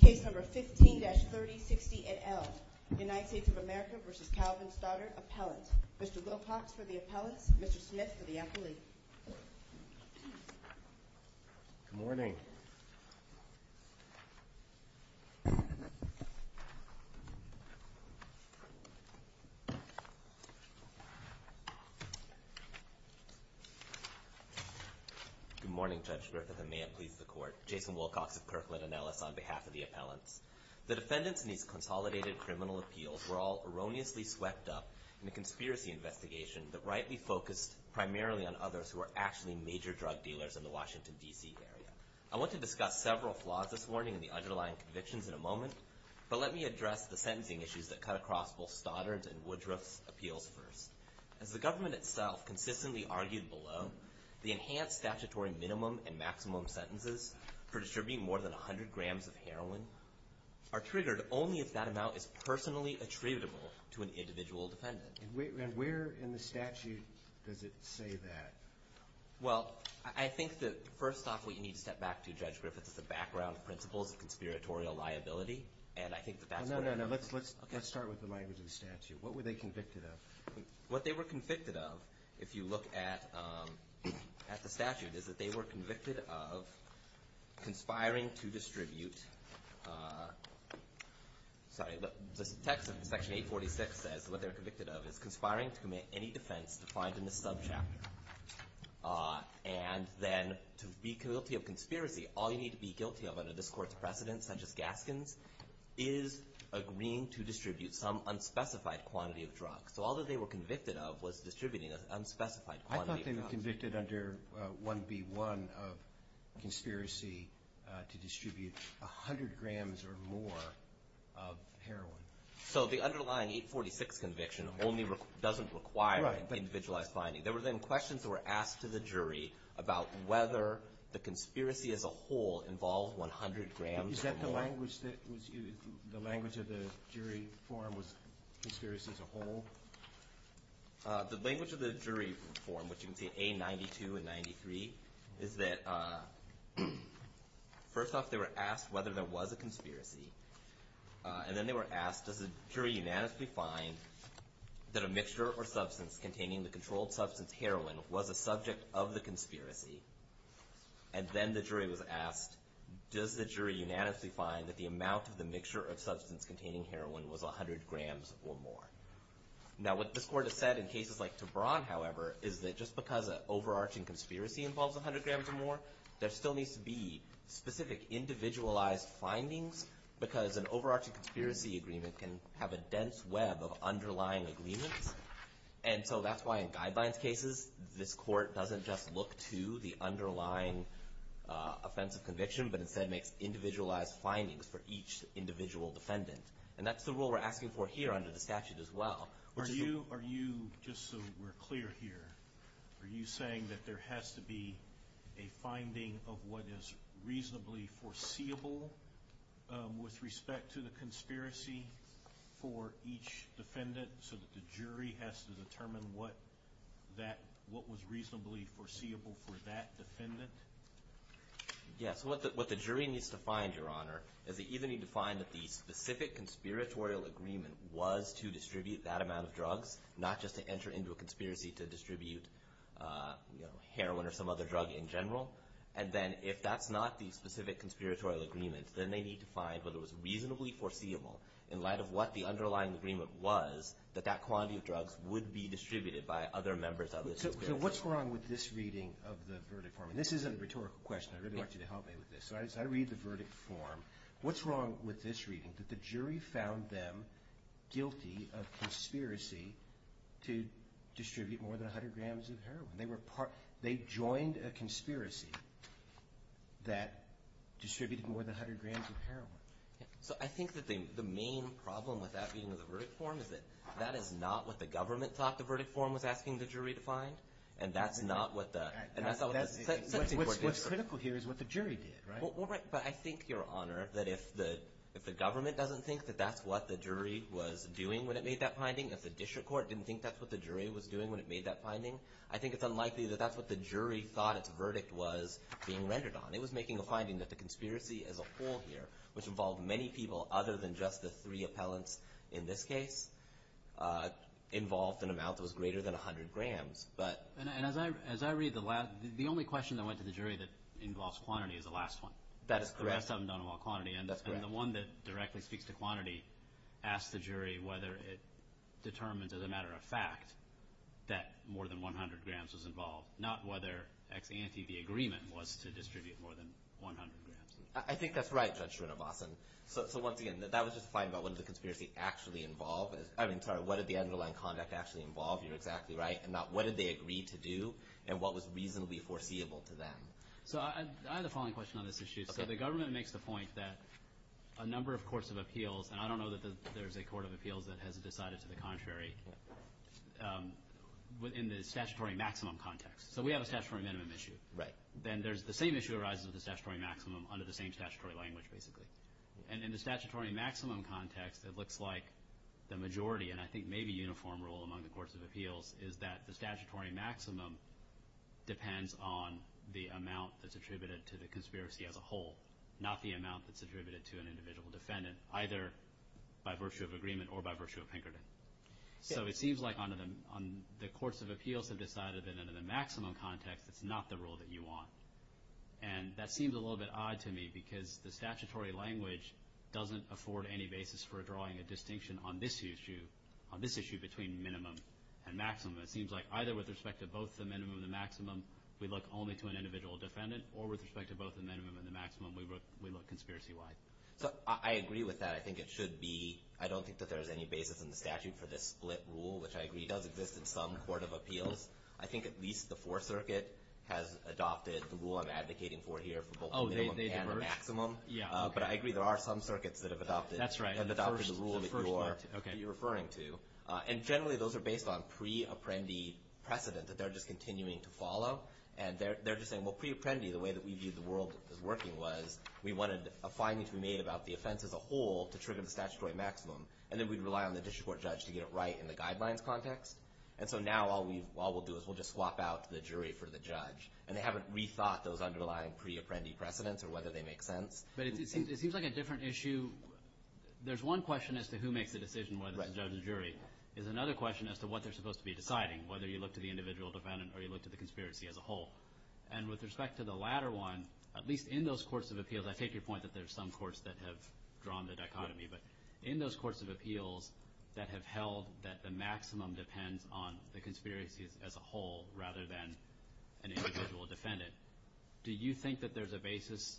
Case number 15-3060 et al. United States of America v. Calvin Stoddard, Appellant. Mr. Wilcox for the Appellants, Mr. Smith for the Appellee. Good morning. Good morning, Judge Griffith, and may it please the Court. Jason Wilcox of Kirkland & Ellis on behalf of the Appellants. The defendants in these consolidated criminal appeals were all erroneously swept up in a conspiracy investigation that rightly focused primarily on others who were actually major drug dealers in the Washington, D.C. area. I want to discuss several flaws this morning and the underlying convictions in a moment, but let me address the sentencing issues that cut across both Stoddard's and Woodruff's appeals first. As the government itself consistently argued below, the enhanced statutory minimum and maximum sentences for distributing more than 100 grams of heroin are triggered only if that amount is personally attributable to an individual defendant. And where in the statute does it say that? Well, I think that first off, what you need to step back to, Judge Griffith, is the background principles of conspiratorial liability, and I think that that's what I mean. No, no, no. Let's start with the language of the statute. What were they convicted of? What they were convicted of, if you look at the statute, is that they were convicted of conspiring to distribute – sorry, the text of Section 846 says what they were convicted of is conspiring to commit any defense defined in the subchapter. And then to be guilty of conspiracy, all you need to be guilty of under this Court's precedence, such as Gaskin's, is agreeing to distribute some unspecified quantity of drugs. So all that they were convicted of was distributing an unspecified quantity of drugs. I thought they were convicted under 1B1 of conspiracy to distribute 100 grams or more of heroin. So the underlying 846 conviction only doesn't require individualized finding. There were then questions that were asked to the jury about whether the conspiracy as a whole involved 100 grams or more. Is that the language of the jury forum was conspiracy as a whole? The language of the jury forum, which you can see A92 and 93, is that first off, they were asked whether there was a conspiracy, and then they were asked, does the jury unanimously find that a mixture or substance containing the controlled substance heroin was a subject of the conspiracy? And then the jury was asked, does the jury unanimously find that the amount of the mixture of substance containing heroin was 100 grams or more? Now what this Court has said in cases like Tebron, however, is that just because an overarching conspiracy involves 100 grams or more, there still needs to be specific individualized findings because an overarching conspiracy agreement can have a dense web of underlying agreements. And so that's why in guidelines cases, this Court doesn't just look to the underlying offense of conviction, but instead makes individualized findings for each individual defendant. And that's the rule we're asking for here under the statute as well. Are you, just so we're clear here, are you saying that there has to be a finding of what is reasonably foreseeable with respect to the conspiracy for each defendant so that the jury has to determine what was reasonably foreseeable for that defendant? Yes, what the jury needs to find, Your Honor, is they either need to find that the specific conspiratorial agreement was to distribute that amount of drugs, not just to enter into a conspiracy to distribute heroin or some other drug in general. And then if that's not the specific conspiratorial agreement, then they need to find whether it was reasonably foreseeable in light of what the underlying agreement was that that quantity of drugs would be distributed by other members of the conspiracy. So what's wrong with this reading of the verdict form? And this is a rhetorical question. I'd really like you to help me with this. So as I read the verdict form, what's wrong with this reading, that the jury found them guilty of conspiracy to distribute more than 100 grams of heroin? They joined a conspiracy that distributed more than 100 grams of heroin. So I think that the main problem with that reading of the verdict form is that that is not what the government taught the verdict form was asking the jury to find, and that's not what the – What's critical here is what the jury did, right? Well, right, but I think, Your Honor, that if the government doesn't think that that's what the jury was doing when it made that finding, if the district court didn't think that's what the jury was doing when it made that finding, I think it's unlikely that that's what the jury thought its verdict was being rendered on. It was making a finding that the conspiracy as a whole here, which involved many people other than just the three appellants in this case, involved an amount that was greater than 100 grams. And as I read the last – the only question that went to the jury that involves quantity is the last one. That is correct. The rest of them don't involve quantity. That's correct. And the one that directly speaks to quantity asks the jury whether it determines, as a matter of fact, that more than 100 grams was involved, not whether ex ante the agreement was to distribute more than 100 grams. I think that's right, Judge Srinivasan. So once again, that was just a finding about what the conspiracy actually involved. I mean, sorry, what did the underlying conduct actually involve? You're exactly right. And not what did they agree to do and what was reasonably foreseeable to them. So I have the following question on this issue. So the government makes the point that a number of courts of appeals, and I don't know that there's a court of appeals that has decided to the contrary, in the statutory maximum context. So we have a statutory minimum issue. Right. Then the same issue arises with the statutory maximum under the same statutory language, basically. And in the statutory maximum context, it looks like the majority, and I think maybe uniform rule among the courts of appeals, is that the statutory maximum depends on the amount that's attributed to the conspiracy as a whole, not the amount that's attributed to an individual defendant, either by virtue of agreement or by virtue of Pinkerton. So it seems like under the courts of appeals have decided that under the maximum context, it's not the rule that you want. And that seems a little bit odd to me because the statutory language doesn't afford any basis for drawing a distinction on this issue, on this issue between minimum and maximum. It seems like either with respect to both the minimum and the maximum, we look only to an individual defendant, or with respect to both the minimum and the maximum, we look conspiracy-wide. So I agree with that. I think it should be. I don't think that there's any basis in the statute for this split rule, which I agree does exist in some court of appeals. I think at least the Fourth Circuit has adopted the rule I'm advocating for here, for both the minimum and the maximum. But I agree there are some circuits that have adopted the rule that you're referring to. And generally those are based on pre-apprendi precedent that they're just continuing to follow. And they're just saying, well, pre-apprendi, the way that we view the world is working, was we wanted a finding to be made about the offense as a whole to trigger the statutory maximum. And then we'd rely on the district court judge to get it right in the guidelines context. And so now all we'll do is we'll just swap out the jury for the judge. And they haven't rethought those underlying pre-apprendi precedents or whether they make sense. But it seems like a different issue. There's one question as to who makes the decision whether it's the judge or jury. There's another question as to what they're supposed to be deciding, whether you look to the individual defendant or you look to the conspiracy as a whole. And with respect to the latter one, at least in those courts of appeals, I take your point that there's some courts that have drawn the dichotomy. But in those courts of appeals that have held that the maximum depends on the conspiracy as a whole rather than an individual defendant. Do you think that there's a basis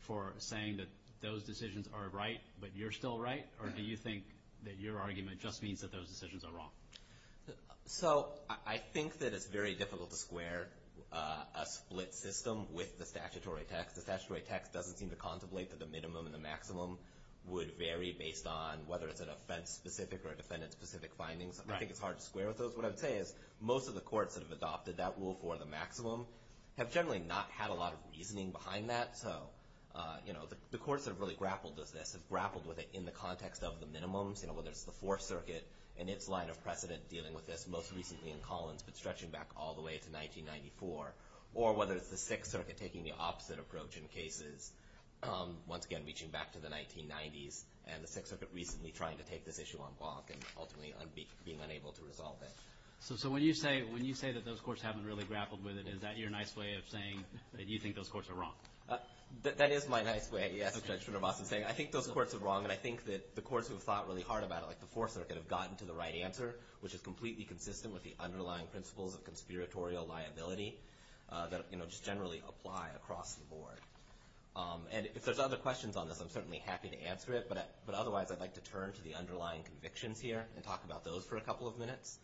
for saying that those decisions are right but you're still right? Or do you think that your argument just means that those decisions are wrong? So I think that it's very difficult to square a split system with the statutory text. The statutory text doesn't seem to contemplate that the minimum and the maximum would vary based on whether it's an offense-specific or a defendant-specific findings. I think it's hard to square with those. What I would say is most of the courts that have adopted that rule for the maximum have generally not had a lot of reasoning behind that. So the courts that have really grappled with this have grappled with it in the context of the minimums, whether it's the Fourth Circuit and its line of precedent dealing with this, most recently in Collins but stretching back all the way to 1994, or whether it's the Sixth Circuit taking the opposite approach in cases, once again reaching back to the 1990s, and the Sixth Circuit recently trying to take this issue on block and ultimately being unable to resolve it. So when you say that those courts haven't really grappled with it, is that your nice way of saying that you think those courts are wrong? That is my nice way, yes, of Judge Srinivasan saying, I think those courts are wrong and I think that the courts who have thought really hard about it, like the Fourth Circuit, have gotten to the right answer, which is completely consistent with the underlying principles of conspiratorial liability that just generally apply across the board. And if there's other questions on this, I'm certainly happy to answer it, but otherwise I'd like to turn to the underlying convictions here and talk about those for a couple of minutes.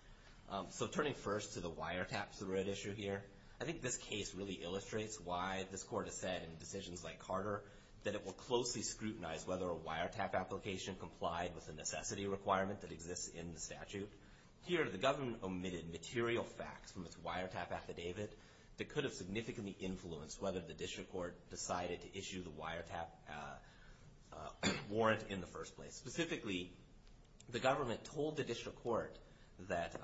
So turning first to the wiretaps, the red issue here, I think this case really illustrates why this court has said in decisions like Carter that it will closely scrutinize whether a wiretap application complied with a necessity requirement that exists in the statute. Here the government omitted material facts from its wiretap affidavit that could have significantly influenced whether the district court decided to issue the wiretap warrant in the first place. Specifically, the government told the district court that,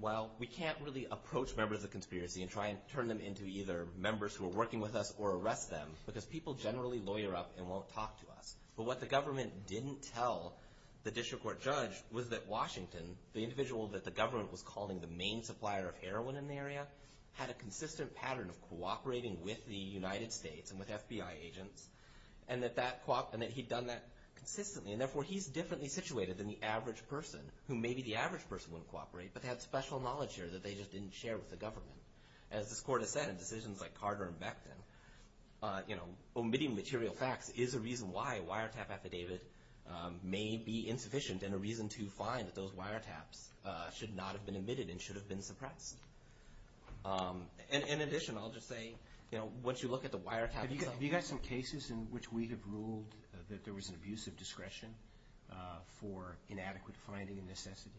well, we can't really approach members of the conspiracy and try and turn them into either members who are working with us or arrest them, because people generally lawyer up and won't talk to us. But what the government didn't tell the district court judge was that Washington, the individual that the government was calling the main supplier of heroin in the area, had a consistent pattern of cooperating with the United States and with FBI agents and that he'd done that consistently, and therefore he's differently situated than the average person, who maybe the average person wouldn't cooperate, but they had special knowledge here that they just didn't share with the government. As this court has said in decisions like Carter and Becton, omitting material facts is a reason why a wiretap affidavit may be insufficient and a reason to find that those wiretaps should not have been omitted and should have been suppressed. In addition, I'll just say, once you look at the wiretap itself have you got some cases in which we have ruled that there was an abusive discretion for inadequate finding and necessity?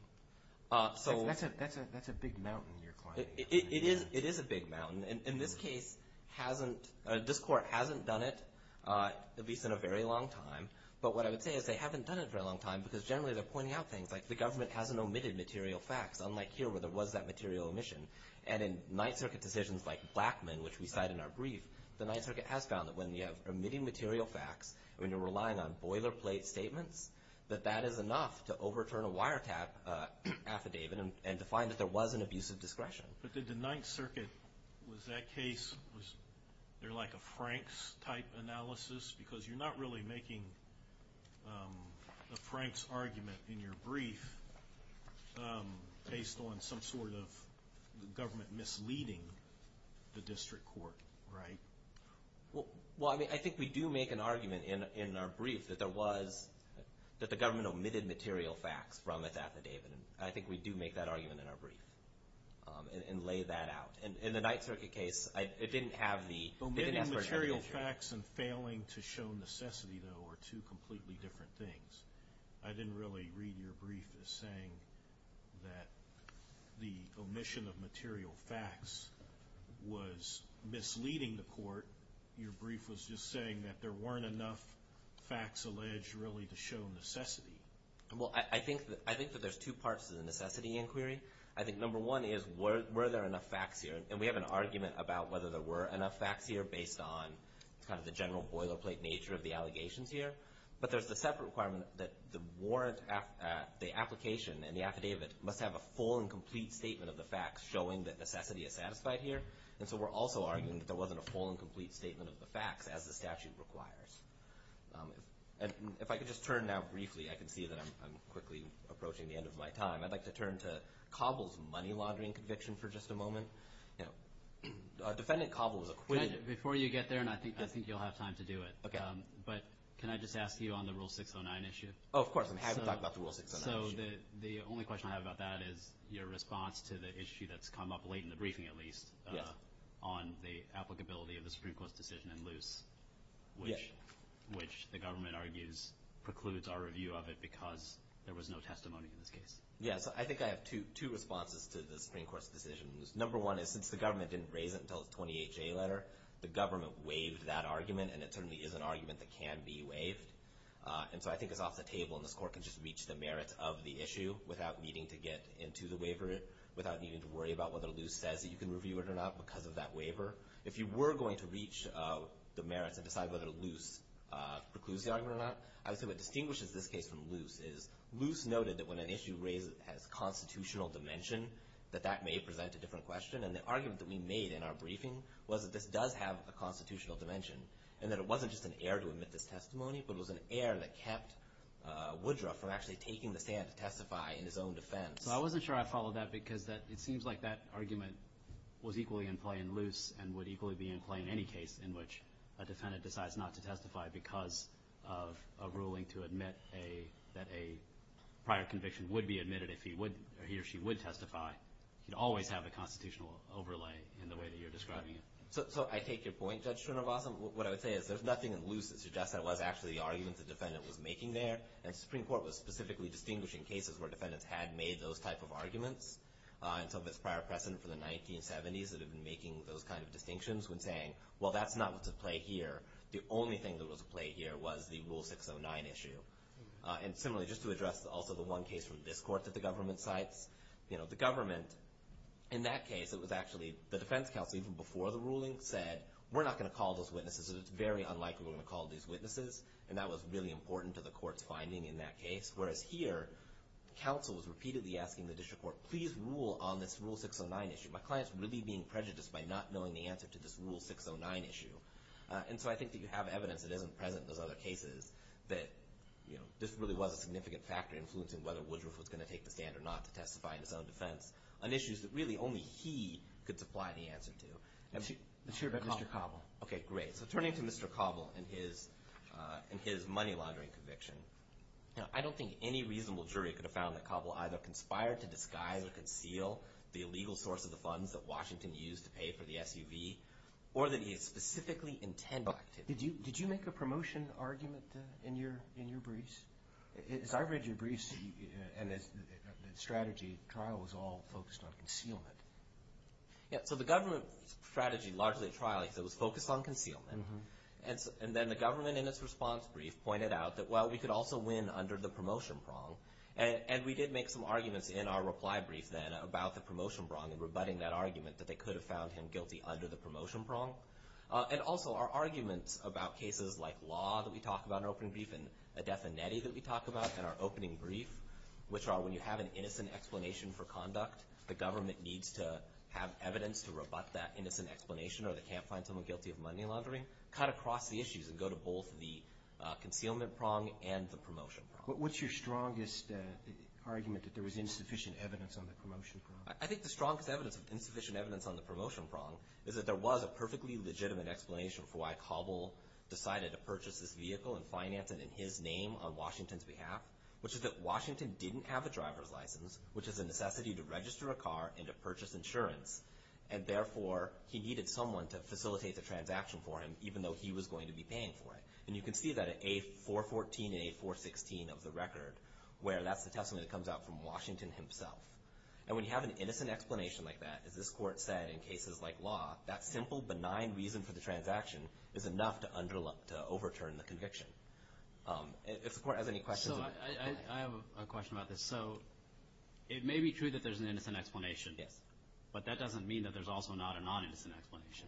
That's a big mountain you're climbing. It is a big mountain. In this case, this court hasn't done it, at least in a very long time. But what I would say is they haven't done it for a long time because generally they're pointing out things like the government hasn't omitted material facts, unlike here where there was that material omission. And in Ninth Circuit decisions like Blackmun, which we cite in our brief, the Ninth Circuit has found that when you have omitting material facts, when you're relying on boilerplate statements, that that is enough to overturn a wiretap affidavit and to find that there was an abusive discretion. But did the Ninth Circuit, was that case, was there like a Franks-type analysis? Because you're not really making a Franks argument in your brief based on some sort of government misleading the district court, right? Well, I mean, I think we do make an argument in our brief that there was, that the government omitted material facts from its affidavit. I think we do make that argument in our brief and lay that out. In the Ninth Circuit case, it didn't have the expert commentary. Well, omitting material facts and failing to show necessity, though, are two completely different things. I didn't really read your brief as saying that the omission of material facts was misleading the court. Your brief was just saying that there weren't enough facts alleged really to show necessity. Well, I think that there's two parts to the necessity inquiry. I think number one is, were there enough facts here? And we have an argument about whether there were enough facts here based on kind of the general boilerplate nature of the allegations here. But there's the separate requirement that the warrant, the application, and the affidavit must have a full and complete statement of the facts showing that necessity is satisfied here. And so we're also arguing that there wasn't a full and complete statement of the facts as the statute requires. If I could just turn now briefly, I can see that I'm quickly approaching the end of my time. I'd like to turn to Cobble's money laundering conviction for just a moment. Defendant Cobble was acquitted. Before you get there, and I think you'll have time to do it, but can I just ask you on the Rule 609 issue? Oh, of course. I haven't talked about the Rule 609 issue. So the only question I have about that is your response to the issue that's come up late in the briefing at least on the applicability of the Supreme Court's decision in Luce, which the government argues precludes our review of it because there was no testimony in this case. Yes, I think I have two responses to the Supreme Court's decision in Luce. Number one is since the government didn't raise it until the 28-J letter, the government waived that argument, and it certainly is an argument that can be waived. And so I think it's off the table, and this Court can just reach the merits of the issue without needing to get into the waiver, without needing to worry about whether Luce says that you can review it or not because of that waiver. If you were going to reach the merits and decide whether Luce precludes the argument or not, I would say what distinguishes this case from Luce is Luce noted that when an issue has constitutional dimension that that may present a different question. And the argument that we made in our briefing was that this does have a constitutional dimension and that it wasn't just an error to admit this testimony, but it was an error that kept Woodruff from actually taking the stand to testify in his own defense. So I wasn't sure I followed that because it seems like that argument was equally in play in Luce and would equally be in play in any case in which a defendant decides not to testify because of a ruling to admit that a prior conviction would be admitted if he or she would testify. You'd always have a constitutional overlay in the way that you're describing it. So I take your point, Judge Srinivasan. What I would say is there's nothing in Luce that suggests that it was actually the argument the defendant was making there. And the Supreme Court was specifically distinguishing cases where defendants had made those type of arguments until its prior precedent for the 1970s that had been making those kind of distinctions when saying, well, that's not what's at play here. The only thing that was at play here was the Rule 609 issue. And similarly, just to address also the one case from this Court that the government cites, the government in that case, it was actually the defense counsel even before the ruling said, we're not going to call those witnesses. It's very unlikely we're going to call these witnesses. And that was really important to the Court's finding in that case. Whereas here, counsel was repeatedly asking the district court, please rule on this Rule 609 issue. My client's really being prejudiced by not knowing the answer to this Rule 609 issue. And so I think that you have evidence that isn't present in those other cases that this really was a significant factor influencing whether Woodruff was going to take the stand or not to testify in his own defense on issues that really only he could supply the answer to. Let's hear about Mr. Cobble. Okay, great. So turning to Mr. Cobble and his money laundering conviction, I don't think any reasonable jury could have found that Cobble either conspired to disguise or conceal the illegal source of the funds that Washington used to pay for the SUV or that he specifically intended to. Did you make a promotion argument in your briefs? As I read your briefs and the strategy, the trial was all focused on concealment. So the government strategy, largely the trial, it was focused on concealment. And then the government in its response brief pointed out that, well, we could also win under the promotion prong. And we did make some arguments in our reply brief then about the promotion prong and rebutting that argument that they could have found him guilty under the promotion prong. And also our arguments about cases like law that we talk about in our opening brief and a definitive that we talk about in our opening brief, which are when you have an innocent explanation for conduct, the government needs to have evidence to rebut that innocent explanation or they can't find someone guilty of money laundering, cut across the issues and go to both the concealment prong and the promotion prong. What's your strongest argument that there was insufficient evidence on the promotion prong? I think the strongest evidence of insufficient evidence on the promotion prong is that there was a perfectly legitimate explanation for why Cabal decided to purchase this vehicle and finance it in his name on Washington's behalf, which is that Washington didn't have a driver's license, which is a necessity to register a car and to purchase insurance. And therefore, he needed someone to facilitate the transaction for him, even though he was going to be paying for it. And you can see that in A414 and A416 of the record, where that's the testimony that comes out from Washington himself. And when you have an innocent explanation like that, as this court said in cases like law, that simple, benign reason for the transaction is enough to overturn the conviction. If the court has any questions. So I have a question about this. So it may be true that there's an innocent explanation. Yes. But that doesn't mean that there's also not a non-innocent explanation.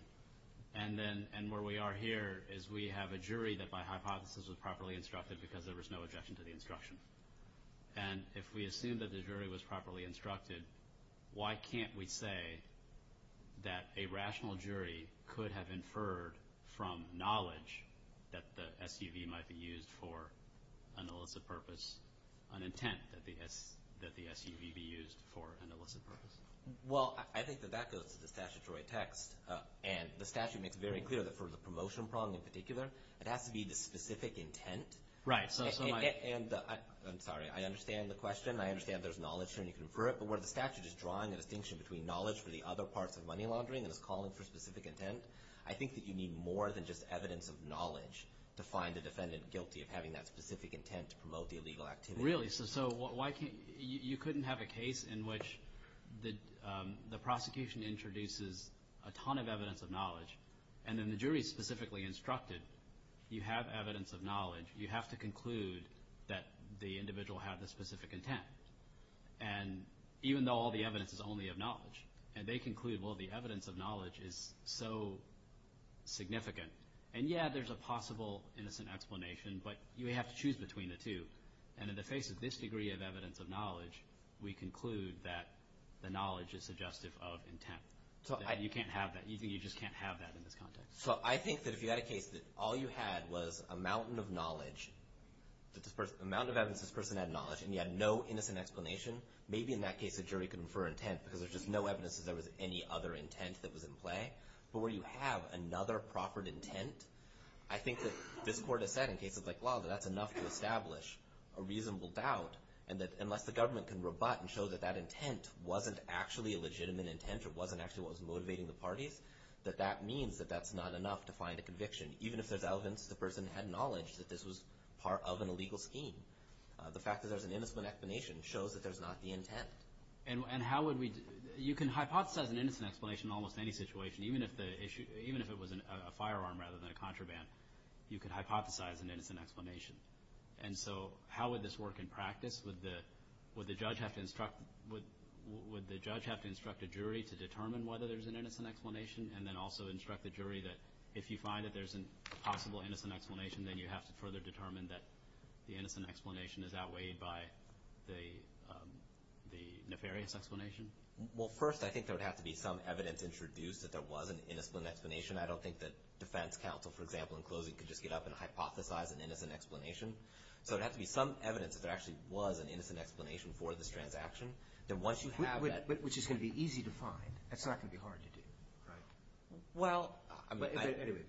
And where we are here is we have a jury that by hypothesis was properly instructed because there was no objection to the instruction. And if we assume that the jury was properly instructed, why can't we say that a rational jury could have inferred from knowledge that the SUV might be used for an illicit purpose, an intent that the SUV be used for an illicit purpose? Well, I think that that goes to the statutory text. And the statute makes very clear that for the promotion prong in particular, it has to be the specific intent. Right. And I'm sorry. I understand the question. I understand there's knowledge here and you can infer it. But where the statute is drawing a distinction between knowledge for the other parts of money laundering and is calling for specific intent, I think that you need more than just evidence of knowledge to find the defendant guilty of having that specific intent to promote the illegal activity. Really? So you couldn't have a case in which the prosecution introduces a ton of evidence of knowledge and then the jury specifically instructed you have evidence of knowledge. You have to conclude that the individual had the specific intent. And even though all the evidence is only of knowledge, and they conclude, well, the evidence of knowledge is so significant. And, yeah, there's a possible innocent explanation, but you have to choose between the two. And in the face of this degree of evidence of knowledge, we conclude that the knowledge is suggestive of intent. You can't have that. You just can't have that in this context. So I think that if you had a case that all you had was a mountain of knowledge, a mountain of evidence this person had knowledge and you had no innocent explanation, maybe in that case a jury could infer intent because there's just no evidence that there was any other intent that was in play. But where you have another proper intent, I think that this court has said in cases like law that that's enough to establish a reasonable doubt, and that unless the government can rebut and show that that intent wasn't actually a legitimate intent or wasn't actually what was motivating the parties, that that means that that's not enough to find a conviction, even if there's evidence the person had knowledge that this was part of an illegal scheme. The fact that there's an innocent explanation shows that there's not the intent. And how would we – you can hypothesize an innocent explanation in almost any situation, even if it was a firearm rather than a contraband. You can hypothesize an innocent explanation. And so how would this work in practice? Would the judge have to instruct a jury to determine whether there's an innocent explanation and then also instruct the jury that if you find that there's a possible innocent explanation, then you have to further determine that the innocent explanation is outweighed by the nefarious explanation? Well, first I think there would have to be some evidence introduced that there was an innocent explanation. I don't think that defense counsel, for example, in closing could just get up and hypothesize an innocent explanation. So there would have to be some evidence that there actually was an innocent explanation for this transaction. Then once you have that – Which is going to be easy to find. It's not going to be hard to do, right? Well – But anyway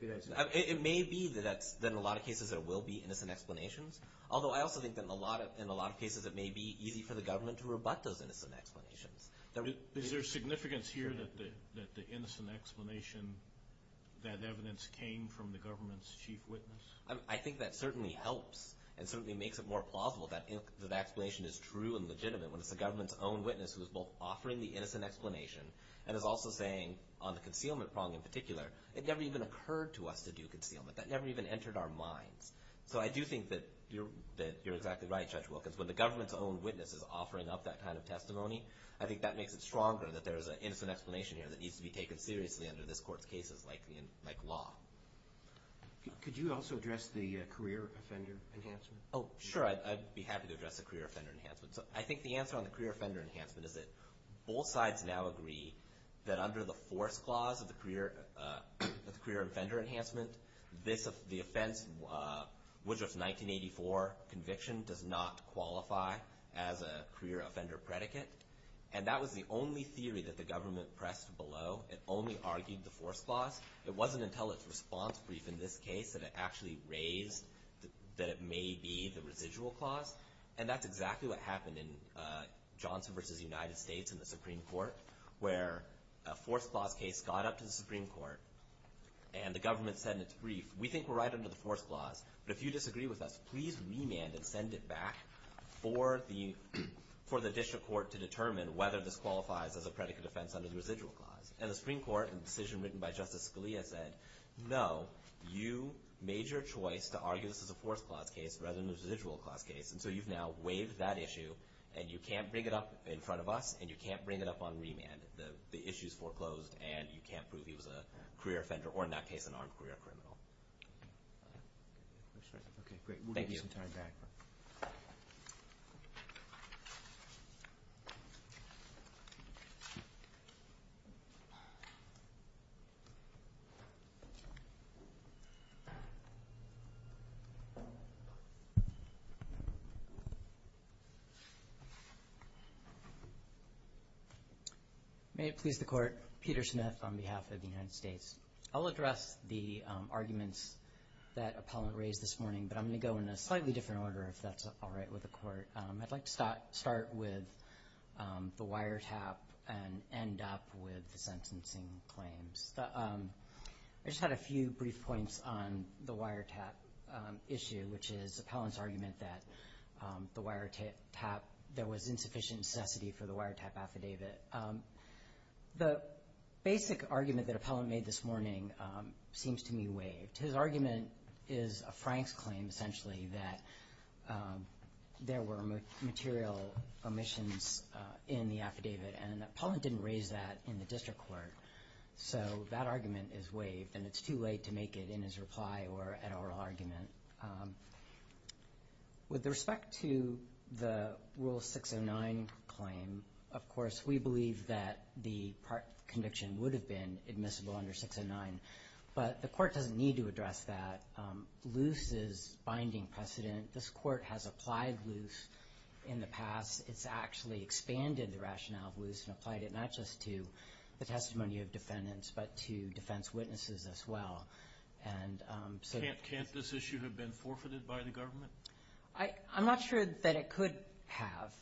– It may be that in a lot of cases there will be innocent explanations, although I also think that in a lot of cases it may be easy for the government to rebut those innocent explanations. Is there significance here that the innocent explanation, that evidence came from the government's chief witness? I think that certainly helps and certainly makes it more plausible that the explanation is true and legitimate when it's the government's own witness who is both offering the innocent explanation and is also saying on the concealment prong in particular, it never even occurred to us to do concealment. That never even entered our minds. So I do think that you're exactly right, Judge Wilkins. When the government's own witness is offering up that kind of testimony, I think that makes it stronger that there's an innocent explanation here that needs to be taken seriously under this Court's cases like law. Could you also address the career offender enhancement? Oh, sure. I'd be happy to address the career offender enhancement. I think the answer on the career offender enhancement is that both sides now agree that under the force clause of the career offender enhancement, the offense, Woodruff's 1984 conviction, does not qualify as a career offender predicate. And that was the only theory that the government pressed below. It only argued the force clause. It wasn't until its response brief in this case that it actually raised that it may be the residual clause. And that's exactly what happened in Johnson v. United States in the Supreme Court, where a force clause case got up to the Supreme Court, and the government said in its brief, we think we're right under the force clause, but if you disagree with us, please remand and send it back for the district court to determine whether this qualifies as a predicate offense under the residual clause. And the Supreme Court in the decision written by Justice Scalia said, no, you made your choice to argue this as a force clause case rather than a residual clause case, and so you've now waived that issue, and you can't bring it up in front of us, and you can't bring it up on remand. The issue's foreclosed, and you can't prove he was a career offender or, in that case, an armed career criminal. Okay, great. We'll give you some time back. May it please the Court. Peter Smith on behalf of the United States. I'll address the arguments that Appellant raised this morning, but I'm going to go in a slightly different order if that's all right with the Court. I'd like to start with the wiretap and end up with the sentencing claims. I just had a few brief points on the wiretap issue, which is Appellant's argument that there was insufficient necessity for the wiretap affidavit. The basic argument that Appellant made this morning seems to me waived. His argument is a Franks claim, essentially, that there were material omissions in the affidavit, and Appellant didn't raise that in the district court, so that argument is waived, and it's too late to make it in his reply or an oral argument. With respect to the Rule 609 claim, of course, we believe that the conviction would have been admissible under 609, but the Court doesn't need to address that. Loose is binding precedent. This Court has applied loose in the past. It's actually expanded the rationale of loose and applied it not just to the testimony of defendants but to defense witnesses as well. Can't this issue have been forfeited by the government? I'm not sure that it could have.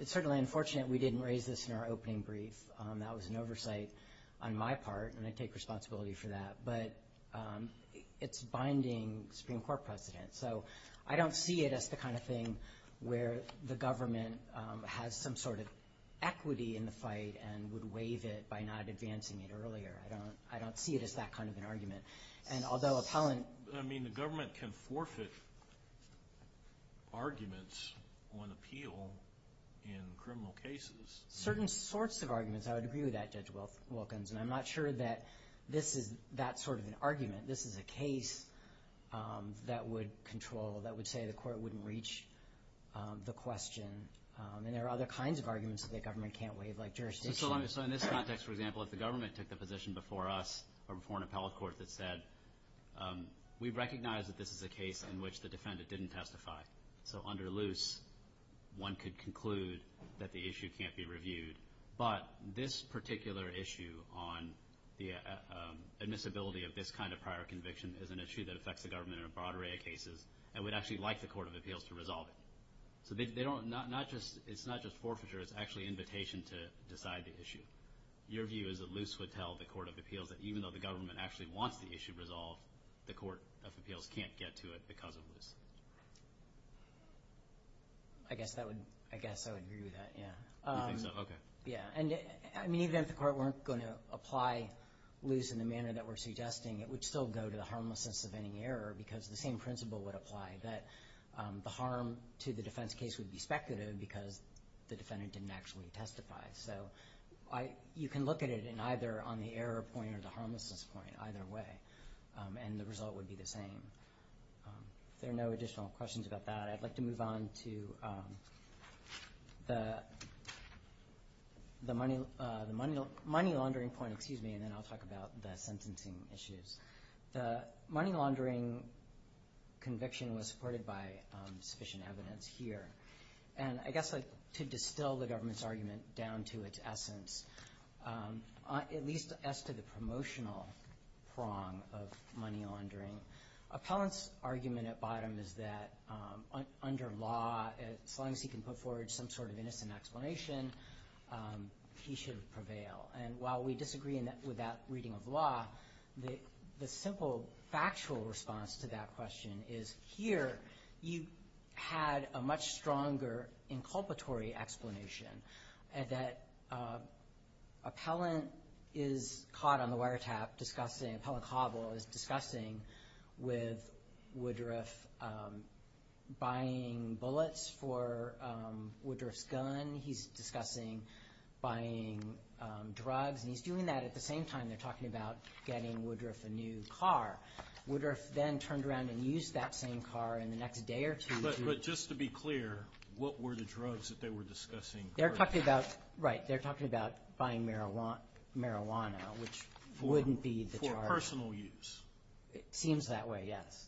It's certainly unfortunate we didn't raise this in our opening brief. That was an oversight on my part, and I take responsibility for that. But it's binding Supreme Court precedent, so I don't see it as the kind of thing where the government has some sort of equity in the fight and would waive it by not advancing it earlier. I don't see it as that kind of an argument. And although appellant— I mean, the government can forfeit arguments on appeal in criminal cases. Certain sorts of arguments. I would agree with that, Judge Wilkins, and I'm not sure that this is that sort of an argument. This is a case that would control, that would say the Court wouldn't reach the question, and there are other kinds of arguments that the government can't waive, like jurisdiction. So in this context, for example, if the government took the position before us or before an appellate court that said, we recognize that this is a case in which the defendant didn't testify. So under loose, one could conclude that the issue can't be reviewed. But this particular issue on the admissibility of this kind of prior conviction is an issue that affects the government in a broad array of cases and would actually like the Court of Appeals to resolve it. So it's not just forfeiture. It's actually invitation to decide the issue. Your view is that loose would tell the Court of Appeals that even though the government actually wants the issue resolved, the Court of Appeals can't get to it because of loose. I guess I would agree with that, yeah. You think so? Okay. Yeah. I mean, even if the Court weren't going to apply loose in the manner that we're suggesting, it would still go to the harmlessness of any error because the same principle would apply, that the harm to the defense case would be speculative because the defendant didn't actually testify. So you can look at it either on the error point or the harmlessness point, either way, and the result would be the same. If there are no additional questions about that, I'd like to move on to the money laundering point, excuse me, and then I'll talk about the sentencing issues. The money laundering conviction was supported by sufficient evidence here. And I guess to distill the government's argument down to its essence, at least as to the promotional prong of money laundering, appellant's argument at bottom is that under law, as long as he can put forward some sort of innocent explanation, he should prevail. And while we disagree with that reading of law, the simple factual response to that question is, here you had a much stronger inculpatory explanation, that appellant is caught on the wiretap discussing, Appellant Cobble is discussing with Woodruff buying bullets for Woodruff's gun. He's discussing buying drugs. And he's doing that at the same time they're talking about getting Woodruff a new car. Woodruff then turned around and used that same car in the next day or two. But just to be clear, what were the drugs that they were discussing? Right. They're talking about buying marijuana, which wouldn't be the charge. For personal use. It seems that way, yes.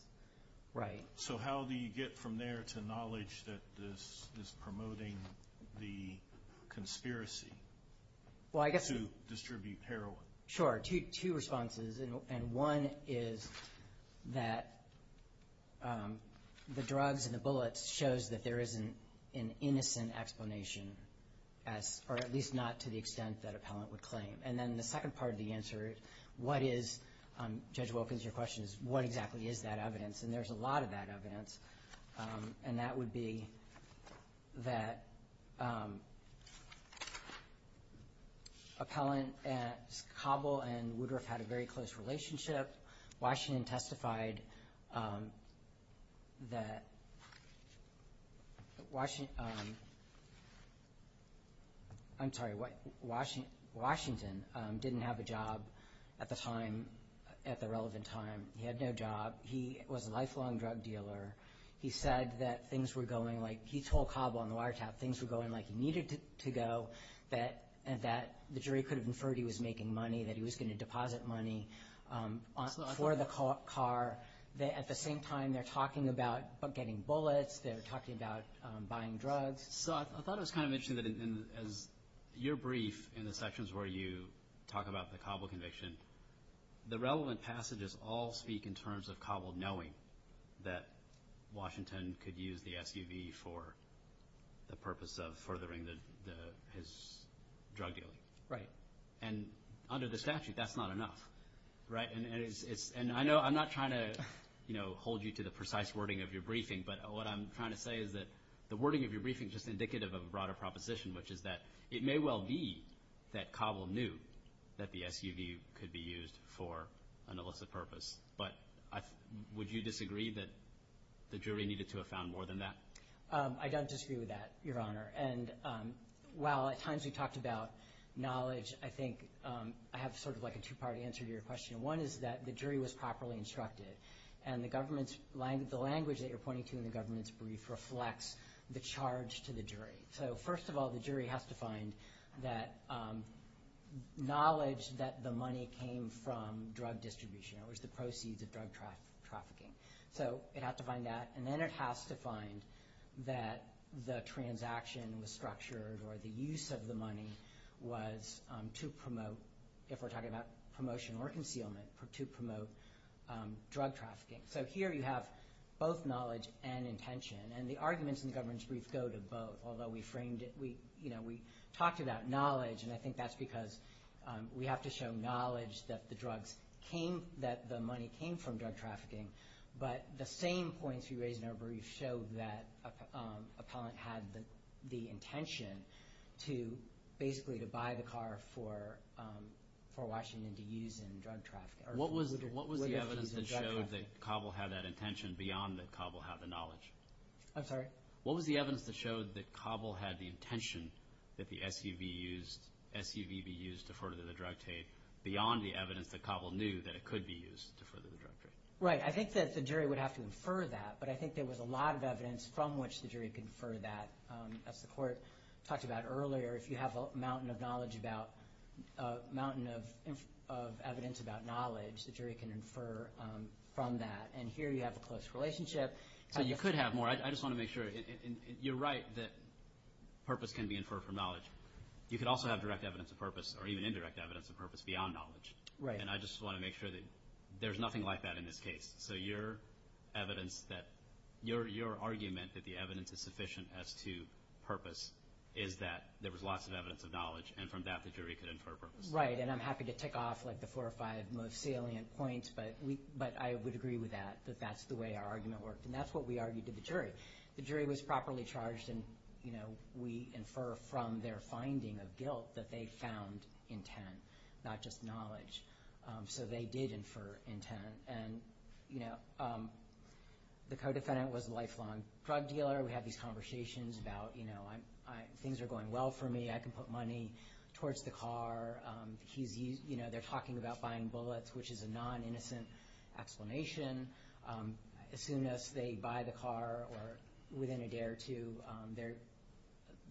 Right. So how do you get from there to knowledge that this is promoting the conspiracy to distribute heroin? Sure. Two responses. And one is that the drugs and the bullets shows that there is an innocent explanation, or at least not to the extent that appellant would claim. And then the second part of the answer, what is, Judge Wilkins, your question is what exactly is that evidence? And there's a lot of that evidence. And that would be that appellant Cobble and Woodruff had a very close relationship. Washington testified that Washington didn't have a job at the time, at the relevant time. He had no job. He was a lifelong drug dealer. He said that things were going like he told Cobble on the wiretap, things were going like he needed to go, that the jury could have inferred he was making money, that he was going to deposit money for the car. At the same time, they're talking about getting bullets. They're talking about buying drugs. So I thought it was kind of interesting that in your brief in the sections where you talk about the Cobble conviction, the relevant passages all speak in terms of Cobble knowing that Washington could use the SUV for the purpose of furthering his drug dealing. Right. And under the statute, that's not enough, right? And I know I'm not trying to, you know, hold you to the precise wording of your briefing, but what I'm trying to say is that the wording of your briefing is just indicative of a broader proposition, which is that it may well be that Cobble knew that the SUV could be used for an illicit purpose, but would you disagree that the jury needed to have found more than that? I don't disagree with that, Your Honor. And while at times we talked about knowledge, I think I have sort of like a two-part answer to your question. One is that the jury was properly instructed, and the language that you're pointing to in the government's brief reflects the charge to the jury. So first of all, the jury has to find that knowledge that the money came from drug distribution, that was the proceeds of drug trafficking. So it has to find that, and then it has to find that the transaction was structured or the use of the money was to promote, if we're talking about promotion or concealment, to promote drug trafficking. So here you have both knowledge and intention, and the arguments in the government's brief go to both, although we talked about knowledge, and I think that's because we have to show knowledge that the money came from drug trafficking, but the same points you raised in our brief showed that Appellant had the intention to basically buy the car for Washington to use in drug trafficking. What was the evidence that showed that Cobble had that intention beyond that Cobble had the knowledge? I'm sorry? What was the evidence that showed that Cobble had the intention that the SUV be used to further the drug trade beyond the evidence that Cobble knew that it could be used to further the drug trade? Right. I think that the jury would have to infer that, but I think there was a lot of evidence from which the jury could infer that. As the Court talked about earlier, if you have a mountain of evidence about knowledge, the jury can infer from that. And here you have a close relationship. So you could have more. I just want to make sure. You're right that purpose can be inferred from knowledge. You could also have direct evidence of purpose or even indirect evidence of purpose beyond knowledge, and I just want to make sure that there's nothing like that in this case. So your argument that the evidence is sufficient as to purpose is that there was lots of evidence of knowledge, and from that the jury could infer purpose. Right, and I'm happy to tick off the four or five most salient points, but I would agree with that, that that's the way our argument worked, and that's what we argued to the jury. The jury was properly charged, and we infer from their finding of guilt that they found intent, not just knowledge. So they did infer intent, and the co-defendant was a lifelong drug dealer. We had these conversations about things are going well for me. I can put money towards the car. They're talking about buying bullets, which is a non-innocent explanation. As soon as they buy the car or within a day or two,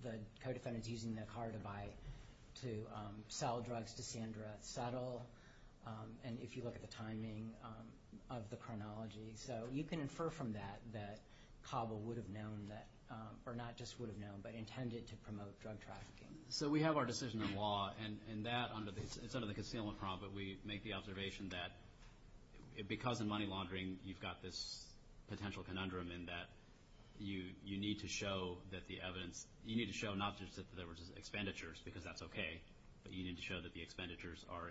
the co-defendant's using the car to sell drugs to Sandra Settle, and if you look at the timing of the chronology. So you can infer from that that Cabo would have known that, or not just would have known, but intended to promote drug trafficking. So we have our decision in law, and it's under the concealment prong, but we make the observation that because in money laundering you've got this potential conundrum in that you need to show not just that there were expenditures, because that's okay, but you need to show that the expenditures are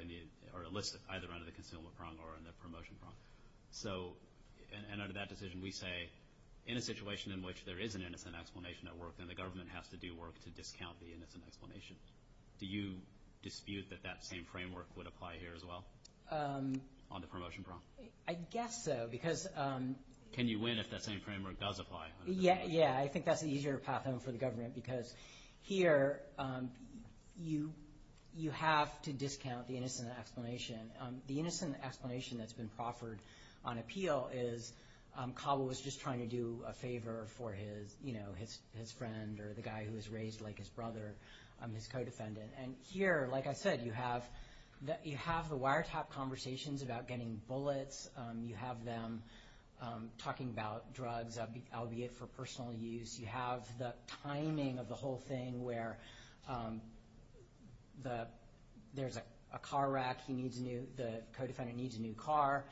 illicit either under the concealment prong or in the promotion prong. And under that decision, we say in a situation in which there is an innocent explanation at work, then the government has to do work to discount the innocent explanation. Do you dispute that that same framework would apply here as well on the promotion prong? I guess so. Can you win if that same framework does apply? Yeah, I think that's an easier path for the government, because here you have to discount the innocent explanation. The innocent explanation that's been proffered on appeal is Cabo was just trying to do a favor for his friend or the guy who was raised like his brother, his co-defendant. And here, like I said, you have the wiretap conversations about getting bullets. You have them talking about drugs, albeit for personal use. You have the timing of the whole thing where there's a car wreck, the co-defendant needs a new car,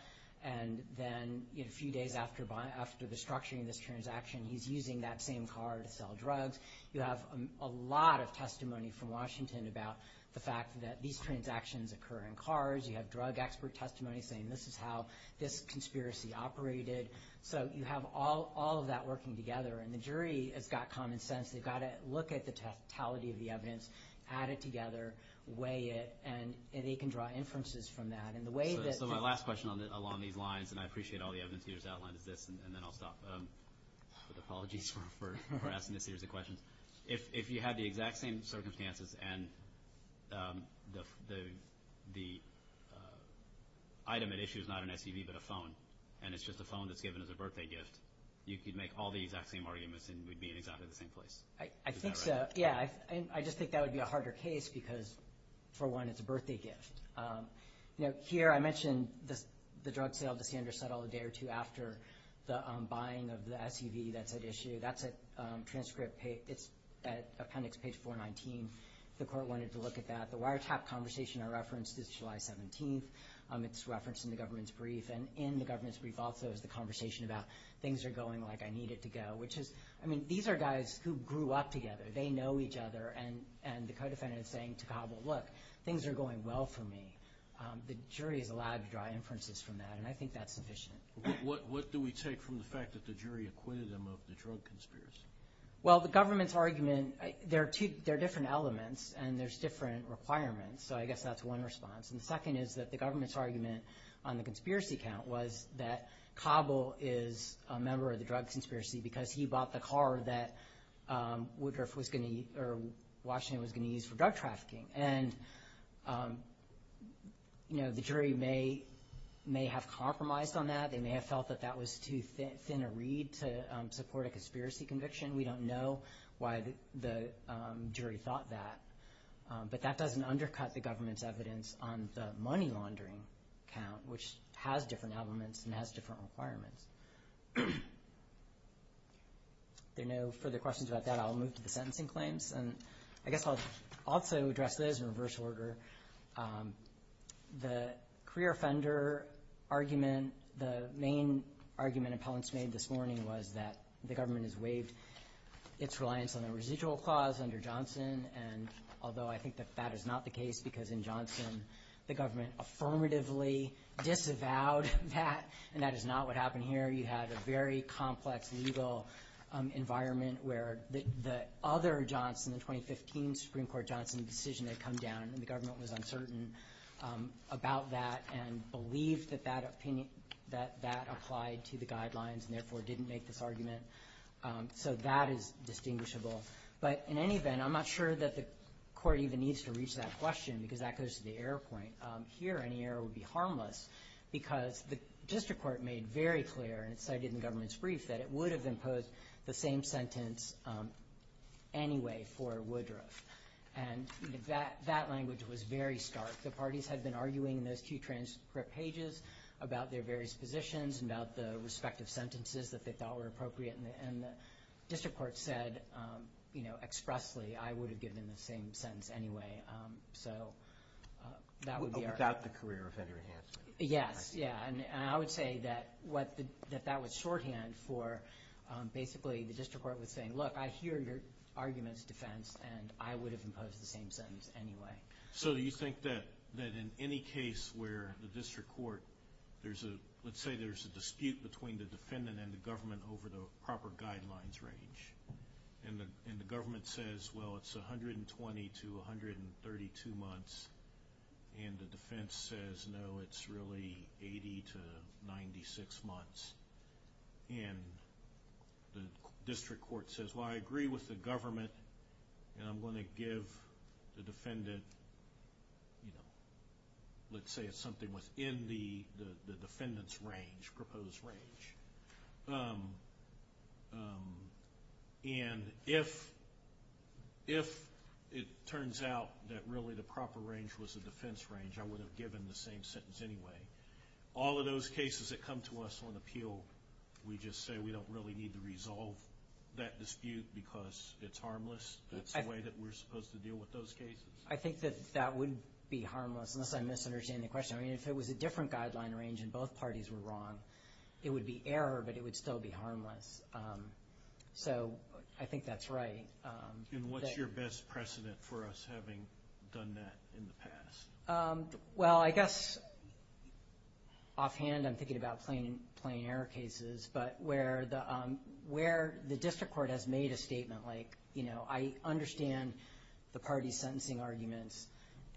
and then a few days after the structuring of this transaction, he's using that same car to sell drugs. You have a lot of testimony from Washington about the fact that these transactions occur in cars. You have drug expert testimony saying this is how this conspiracy operated. So you have all of that working together, and the jury has got common sense. They've got to look at the totality of the evidence, add it together, weigh it, and they can draw inferences from that. So my last question along these lines, and I appreciate all the evidence you just outlined, is this, and then I'll stop with apologies for asking this series of questions. If you had the exact same circumstances and the item at issue is not an SUV but a phone, and it's just a phone that's given as a birthday gift, you could make all the exact same arguments and we'd be in exactly the same place. I think so. Yeah, I just think that would be a harder case because, for one, it's a birthday gift. You know, here I mentioned the drug sale to Sanders Settle a day or two after the buying of the SUV that's at issue. That's a transcript. It's at appendix page 419. The court wanted to look at that. The wiretap conversation I referenced is July 17th. It's referenced in the government's brief, and in the government's brief also is the conversation about things are going like I need it to go, which is, I mean, these are guys who grew up together. They know each other, and the co-defendant is saying to Cabell, look, things are going well for me. The jury is allowed to draw inferences from that, and I think that's sufficient. What do we take from the fact that the jury acquitted him of the drug conspiracy? Well, the government's argument, there are different elements and there's different requirements, so I guess that's one response. And the second is that the government's argument on the conspiracy count was that Cabell is a member of the drug conspiracy because he bought the car that Woodruff was going to use or Washington was going to use for drug trafficking. And, you know, the jury may have compromised on that. They may have felt that that was too thin a reed to support a conspiracy conviction. We don't know why the jury thought that. But that doesn't undercut the government's evidence on the money laundering count, which has different elements and has different requirements. If there are no further questions about that, I'll move to the sentencing claims. And I guess I'll also address this in reverse order. The career offender argument, the main argument appellants made this morning was that the government has waived its reliance on the residual clause under Johnson, and although I think that that is not the case because in Johnson the government affirmatively disavowed that, and that is not what happened here. You had a very complex legal environment where the other Johnson, the 2015 Supreme Court Johnson decision had come down and the government was uncertain about that and believed that that opinion, that that applied to the guidelines and therefore didn't make this argument. So that is distinguishable. But in any event, I'm not sure that the court even needs to reach that question because that goes to the error point. And here any error would be harmless because the district court made very clear, and it's cited in the government's brief, that it would have imposed the same sentence anyway for Woodruff. And that language was very stark. The parties had been arguing in those two transcript pages about their various positions and about the respective sentences that they thought were appropriate, and the district court said expressly, I would have given the same sentence anyway. So that would be our... Without the career of Henry Hansman. Yes, yeah. And I would say that that was shorthand for basically the district court was saying, look, I hear your argument's defense and I would have imposed the same sentence anyway. So do you think that in any case where the district court, let's say there's a dispute between the defendant and the government over the proper guidelines range, and the government says, well, it's 120 to 132 months, and the defense says, no, it's really 80 to 96 months, and the district court says, well, I agree with the government and I'm going to give the defendant, you know, let's say it's something within the defendant's range, proposed range. And if it turns out that really the proper range was the defense range, I would have given the same sentence anyway. All of those cases that come to us on appeal, we just say we don't really need to resolve that dispute because it's harmless. That's the way that we're supposed to deal with those cases. I think that that would be harmless, unless I misunderstand the question. I mean, if it was a different guideline range and both parties were wrong, it would be error, but it would still be harmless. So I think that's right. And what's your best precedent for us having done that in the past? Well, I guess offhand I'm thinking about plain error cases, but where the district court has made a statement like, you know, I understand the parties' sentencing arguments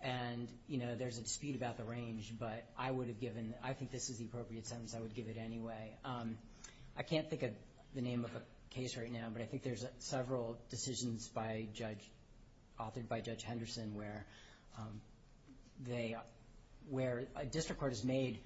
and, you know, there's a dispute about the range, but I would have given, I think this is the appropriate sentence, I would give it anyway. I can't think of the name of a case right now, but I think there's several decisions by a judge, authored by Judge Henderson, where a district court has made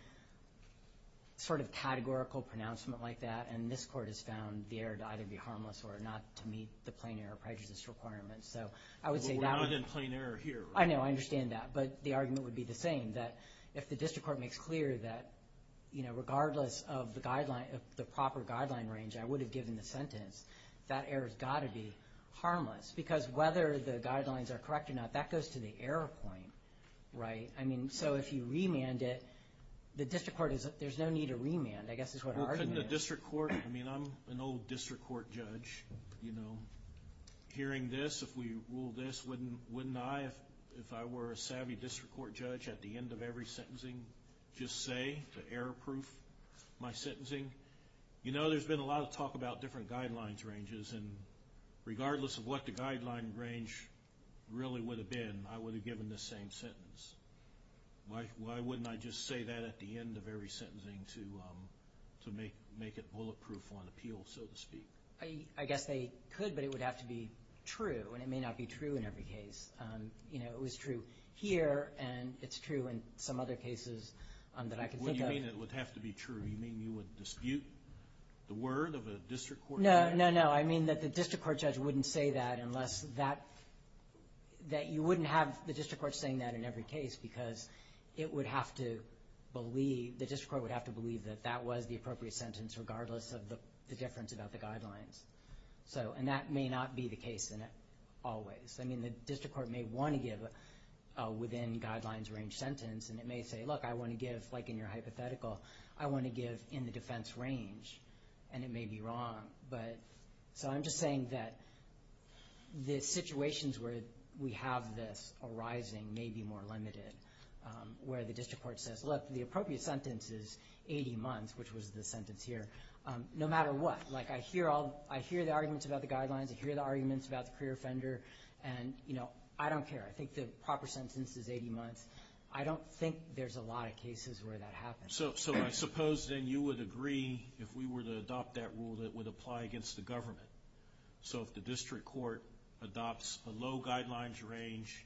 sort of categorical pronouncement like that, and this court has found the error to either be harmless or not to meet the plain error prejudice requirement. So I would say that would be. Well, we're not in plain error here. I know. I understand that. But the argument would be the same, that if the district court makes clear that, you know, regardless of the proper guideline range, I would have given the sentence, that error's got to be harmless, because whether the guidelines are correct or not, that goes to the error point, right? I mean, so if you remand it, the district court, there's no need to remand, I guess is what our argument is. Well, couldn't the district court, I mean, I'm an old district court judge, you know. Hearing this, if we rule this, wouldn't I, if I were a savvy district court judge, at the end of every sentencing just say to error-proof my sentencing? You know, there's been a lot of talk about different guidelines ranges, and regardless of what the guideline range really would have been, I would have given the same sentence. Why wouldn't I just say that at the end of every sentencing to make it bulletproof on appeal, so to speak? I guess they could, but it would have to be true, and it may not be true in every case. You know, it was true here, and it's true in some other cases that I can think of. What do you mean it would have to be true? You mean you would dispute the word of a district court judge? No, no, no. I mean that the district court judge wouldn't say that unless that, that you wouldn't have the district court saying that in every case, because it would have to believe, the district court would have to believe, that that was the appropriate sentence regardless of the difference about the guidelines. And that may not be the case in all ways. I mean the district court may want to give a within guidelines range sentence, and it may say, look, I want to give, like in your hypothetical, I want to give in the defense range, and it may be wrong. So I'm just saying that the situations where we have this arising may be more limited, where the district court says, look, the appropriate sentence is 80 months, which was the sentence here, no matter what. Like I hear all, I hear the arguments about the guidelines, I hear the arguments about the career offender, and you know, I don't care. I think the proper sentence is 80 months. I don't think there's a lot of cases where that happens. So I suppose then you would agree, if we were to adopt that rule, that it would apply against the government. So if the district court adopts a low guidelines range,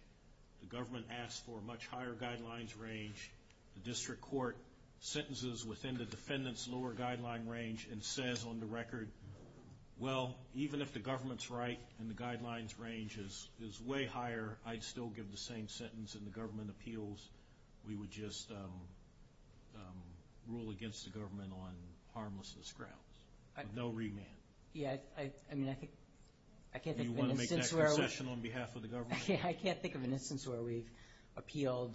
the government asks for a much higher guidelines range, the district court sentences within the defendant's lower guideline range and says on the record, well, even if the government's right and the guidelines range is way higher, I'd still give the same sentence, and the government appeals. We would just rule against the government on harmlessness grounds, no remand. Yeah, I mean, I can't think of an instance where I would. I can't think of an instance where we've appealed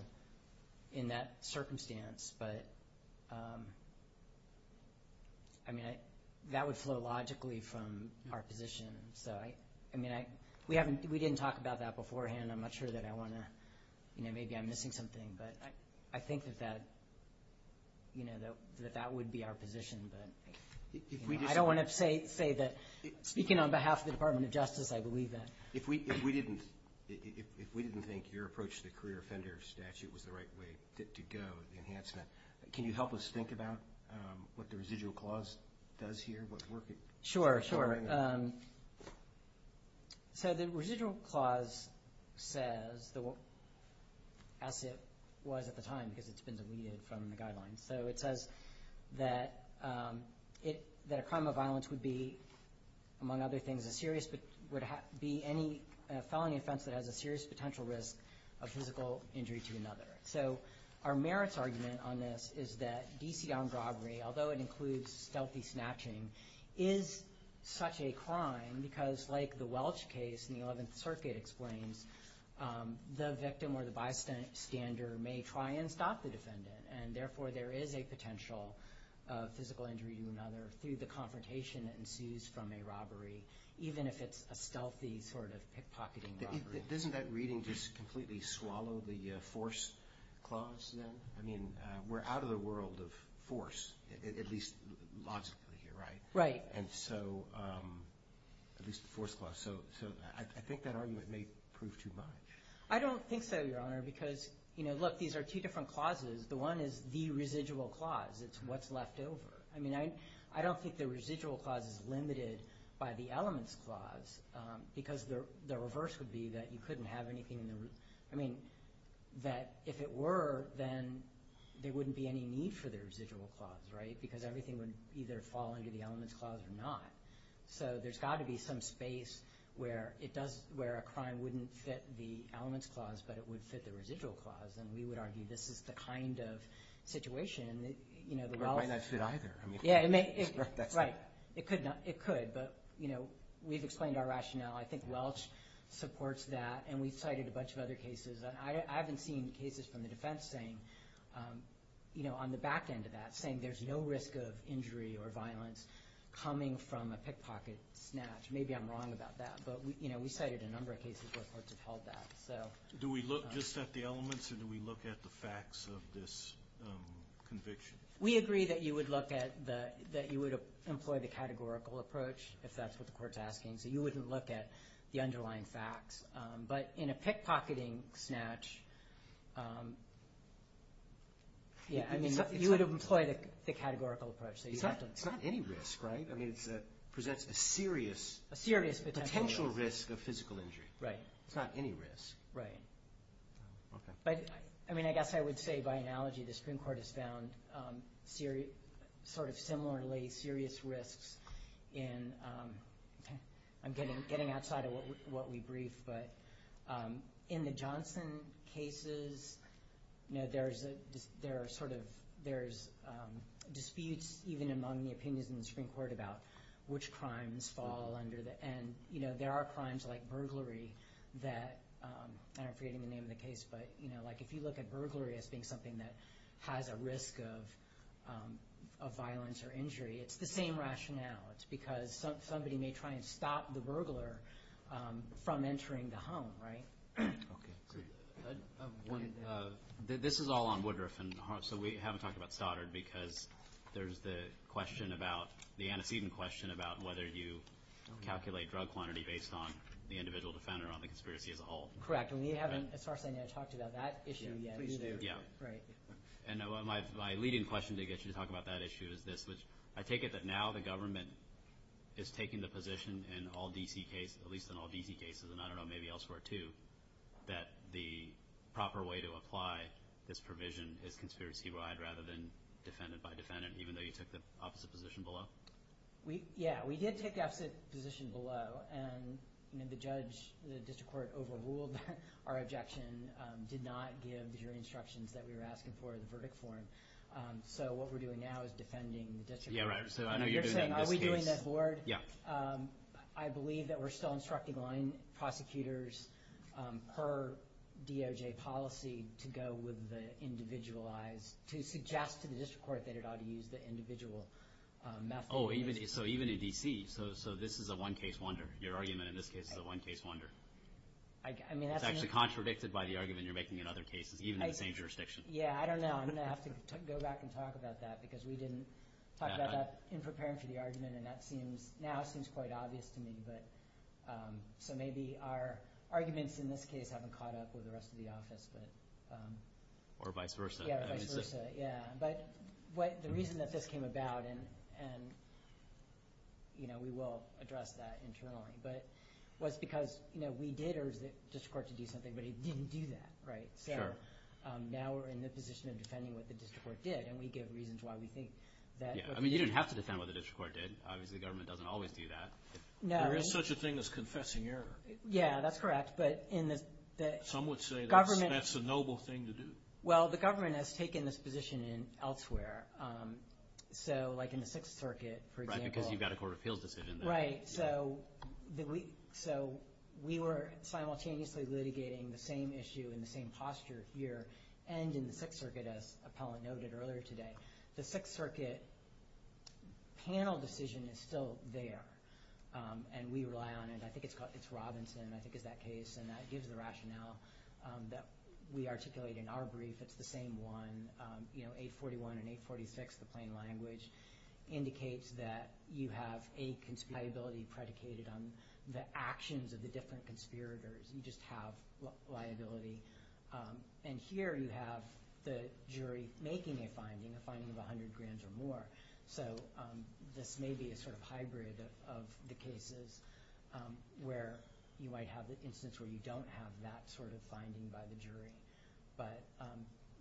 in that circumstance, but, I mean, that would flow logically from our position. So, I mean, we didn't talk about that beforehand. I'm not sure that I want to, you know, maybe I'm missing something, but I think that that would be our position. I don't want to say that speaking on behalf of the Department of Justice, I believe that. If we didn't think your approach to the career offender statute was the right way to go, the enhancement, can you help us think about what the residual clause does here? Sure, sure. So the residual clause says, as it was at the time, because it's been deleted from the guidelines, so it says that a crime of violence would be, among other things, a felony offense that has a serious potential risk of physical injury to another. So our merits argument on this is that D.C. armed robbery, although it includes stealthy snatching, is such a crime because, like the Welch case in the 11th Circuit explains, the victim or the bystander may try and stop the defendant, or through the confrontation ensues from a robbery, even if it's a stealthy sort of pickpocketing robbery. Doesn't that reading just completely swallow the force clause then? I mean, we're out of the world of force, at least logically here, right? Right. And so, at least the force clause. So I think that argument may prove too much. I don't think so, Your Honor, because, you know, look, these are two different clauses. The one is the residual clause. It's what's left over. I mean, I don't think the residual clause is limited by the elements clause because the reverse would be that you couldn't have anything in the root. I mean, that if it were, then there wouldn't be any need for the residual clause, right, because everything would either fall under the elements clause or not. So there's got to be some space where a crime wouldn't fit the elements clause, but it would fit the residual clause. And we would argue this is the kind of situation that, you know, the Welch – Yeah, right. It could, but, you know, we've explained our rationale. I think Welch supports that, and we've cited a bunch of other cases. I haven't seen cases from the defense saying, you know, on the back end of that, saying there's no risk of injury or violence coming from a pickpocket snatch. Maybe I'm wrong about that, but, you know, we cited a number of cases where courts have held that. Do we look just at the elements or do we look at the facts of this conviction? We agree that you would look at the – that you would employ the categorical approach, if that's what the court's asking. So you wouldn't look at the underlying facts. But in a pickpocketing snatch, yeah, I mean, you would employ the categorical approach. It's not any risk, right? I mean, it presents a serious potential risk of physical injury. Right. It's not any risk. Right. Okay. But, I mean, I guess I would say by analogy the Supreme Court has found sort of similarly serious risks in – I'm getting outside of what we briefed, but in the Johnson cases, you know, there are sort of – there's disputes even among the opinions in the Supreme Court about which crimes fall under the – and, you know, there are crimes like burglary that – like if you look at burglary as being something that has a risk of violence or injury, it's the same rationale. It's because somebody may try and stop the burglar from entering the home, right? Okay, great. This is all on Woodruff, and so we haven't talked about Stoddard because there's the question about – the antecedent question about whether you calculate drug quantity based on the individual defendant or on the conspiracy as a whole. Correct. And we haven't, as far as I know, talked about that issue yet either. Please do. Yeah. Right. And my leading question to get you to talk about that issue is this, which I take it that now the government is taking the position in all D.C. cases, at least in all D.C. cases, and I don't know, maybe elsewhere too, that the proper way to apply this provision is conspiracy-wide rather than defendant by defendant, even though you took the opposite position below? Yeah, we did take the opposite position below, and the judge, the district court, overruled our objection, did not give the jury instructions that we were asking for in the verdict form. So what we're doing now is defending the district court. Yeah, right. So I know you're doing that in this case. Are we doing that board? Yeah. I believe that we're still instructing line prosecutors per DOJ policy to go with the individualized – to suggest to the district court that it ought to use the individual method. Oh, so even in D.C., so this is a one-case wonder. Your argument in this case is a one-case wonder. I mean, that's – It's actually contradicted by the argument you're making in other cases, even in the same jurisdiction. Yeah, I don't know. I'm going to have to go back and talk about that because we didn't talk about that in preparing for the argument, and that seems – now it seems quite obvious to me. But – so maybe our arguments in this case haven't caught up with the rest of the office, but – Or vice versa. Yeah, or vice versa. Yeah. But the reason that this came about, and, you know, we will address that internally, but it was because, you know, we did urge the district court to do something, but it didn't do that, right? Sure. So now we're in the position of defending what the district court did, and we give reasons why we think that – Yeah. I mean, you didn't have to defend what the district court did. Obviously, the government doesn't always do that. No. There is such a thing as confessing error. Yeah, that's correct, but in the government – Some would say that's a noble thing to do. Well, the government has taken this position elsewhere. So like in the Sixth Circuit, for example – Right, because you've got a court of appeals decision there. Right. So we were simultaneously litigating the same issue in the same posture here and in the Sixth Circuit, as Appellant noted earlier today. The Sixth Circuit panel decision is still there, and we rely on it. I think it's called – it's Robinson, I think, is that case, and that gives the rationale that we articulate in our brief. It's the same one. You know, 841 and 846, the plain language, indicates that you have a liability predicated on the actions of the different conspirators. You just have liability. And here you have the jury making a finding, a finding of 100 grands or more. So this may be a sort of hybrid of the cases where you might have the instance where you don't have that sort of finding by the jury. But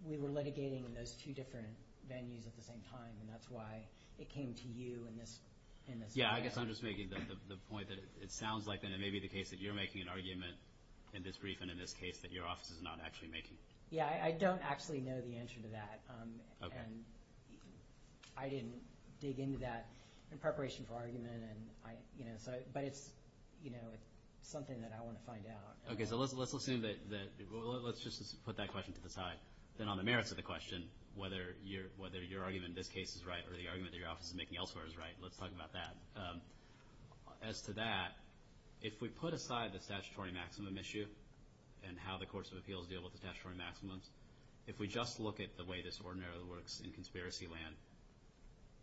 we were litigating in those two different venues at the same time, and that's why it came to you in this – Yeah, I guess I'm just making the point that it sounds like then it may be the case that you're making an argument in this brief and in this case that your office is not actually making. Yeah, I don't actually know the answer to that. Okay. And I didn't dig into that in preparation for argument, but it's something that I want to find out. Okay, so let's assume that – let's just put that question to the side. Then on the merits of the question, whether your argument in this case is right or the argument that your office is making elsewhere is right, let's talk about that. As to that, if we put aside the statutory maximum issue and how the courts of appeals deal with the statutory maximums, if we just look at the way this ordinarily works in conspiracy land,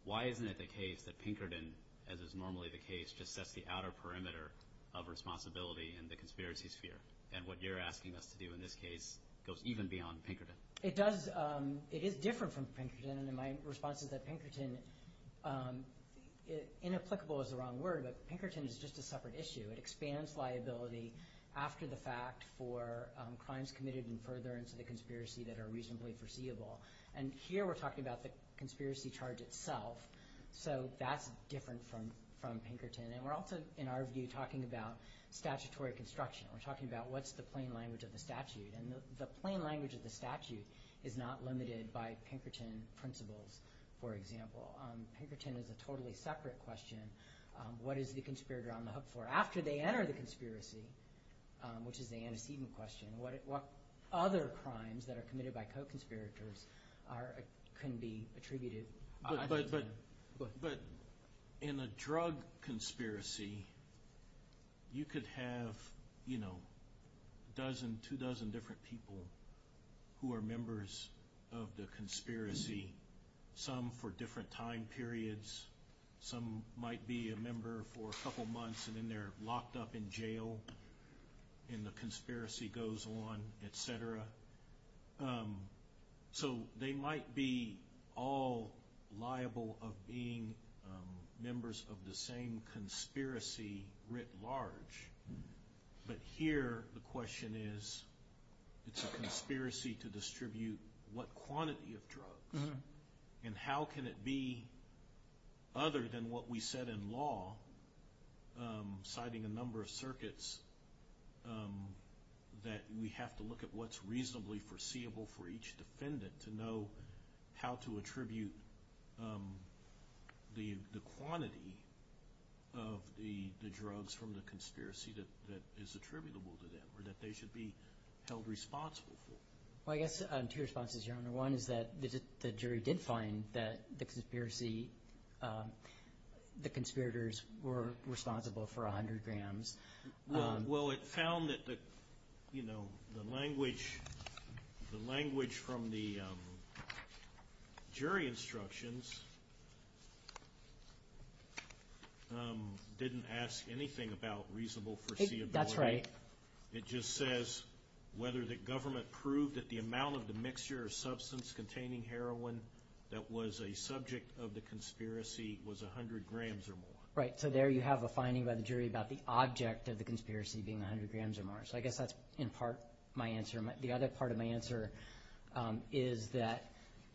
why isn't it the case that Pinkerton, as is normally the case, just sets the outer perimeter of responsibility in the conspiracy sphere? And what you're asking us to do in this case goes even beyond Pinkerton. It does – it is different from Pinkerton, and my response is that Pinkerton – inapplicable is the wrong word, but Pinkerton is just a separate issue. It expands liability after the fact for crimes committed in furtherance of the conspiracy that are reasonably foreseeable. And here we're talking about the conspiracy charge itself, so that's different from Pinkerton. And we're also, in our view, talking about statutory construction. We're talking about what's the plain language of the statute. And the plain language of the statute is not limited by Pinkerton principles, for example. Pinkerton is a totally separate question. What is the conspirator on the hook for? After they enter the conspiracy, which is the antecedent question, what other crimes that are committed by co-conspirators can be attributed? But in a drug conspiracy, you could have, you know, a dozen, two dozen different people who are members of the conspiracy, some for different time periods, some might be a member for a couple months and then they're locked up in jail and the conspiracy goes on, et cetera. So they might be all liable of being members of the same conspiracy writ large. But here the question is, it's a conspiracy to distribute what quantity of drugs? And how can it be, other than what we said in law, citing a number of circuits, that we have to look at what's reasonably foreseeable for each defendant to know how to attribute the quantity of the drugs from the conspiracy that is attributable to them or that they should be held responsible for? One is that the jury did find that the conspirators were responsible for 100 grams. Well, it found that the language from the jury instructions didn't ask anything about reasonable foreseeability. That's right. It just says whether the government proved that the amount of the mixture or substance containing heroin that was a subject of the conspiracy was 100 grams or more. Right. So there you have a finding by the jury about the object of the conspiracy being 100 grams or more. So I guess that's in part my answer. The other part of my answer is that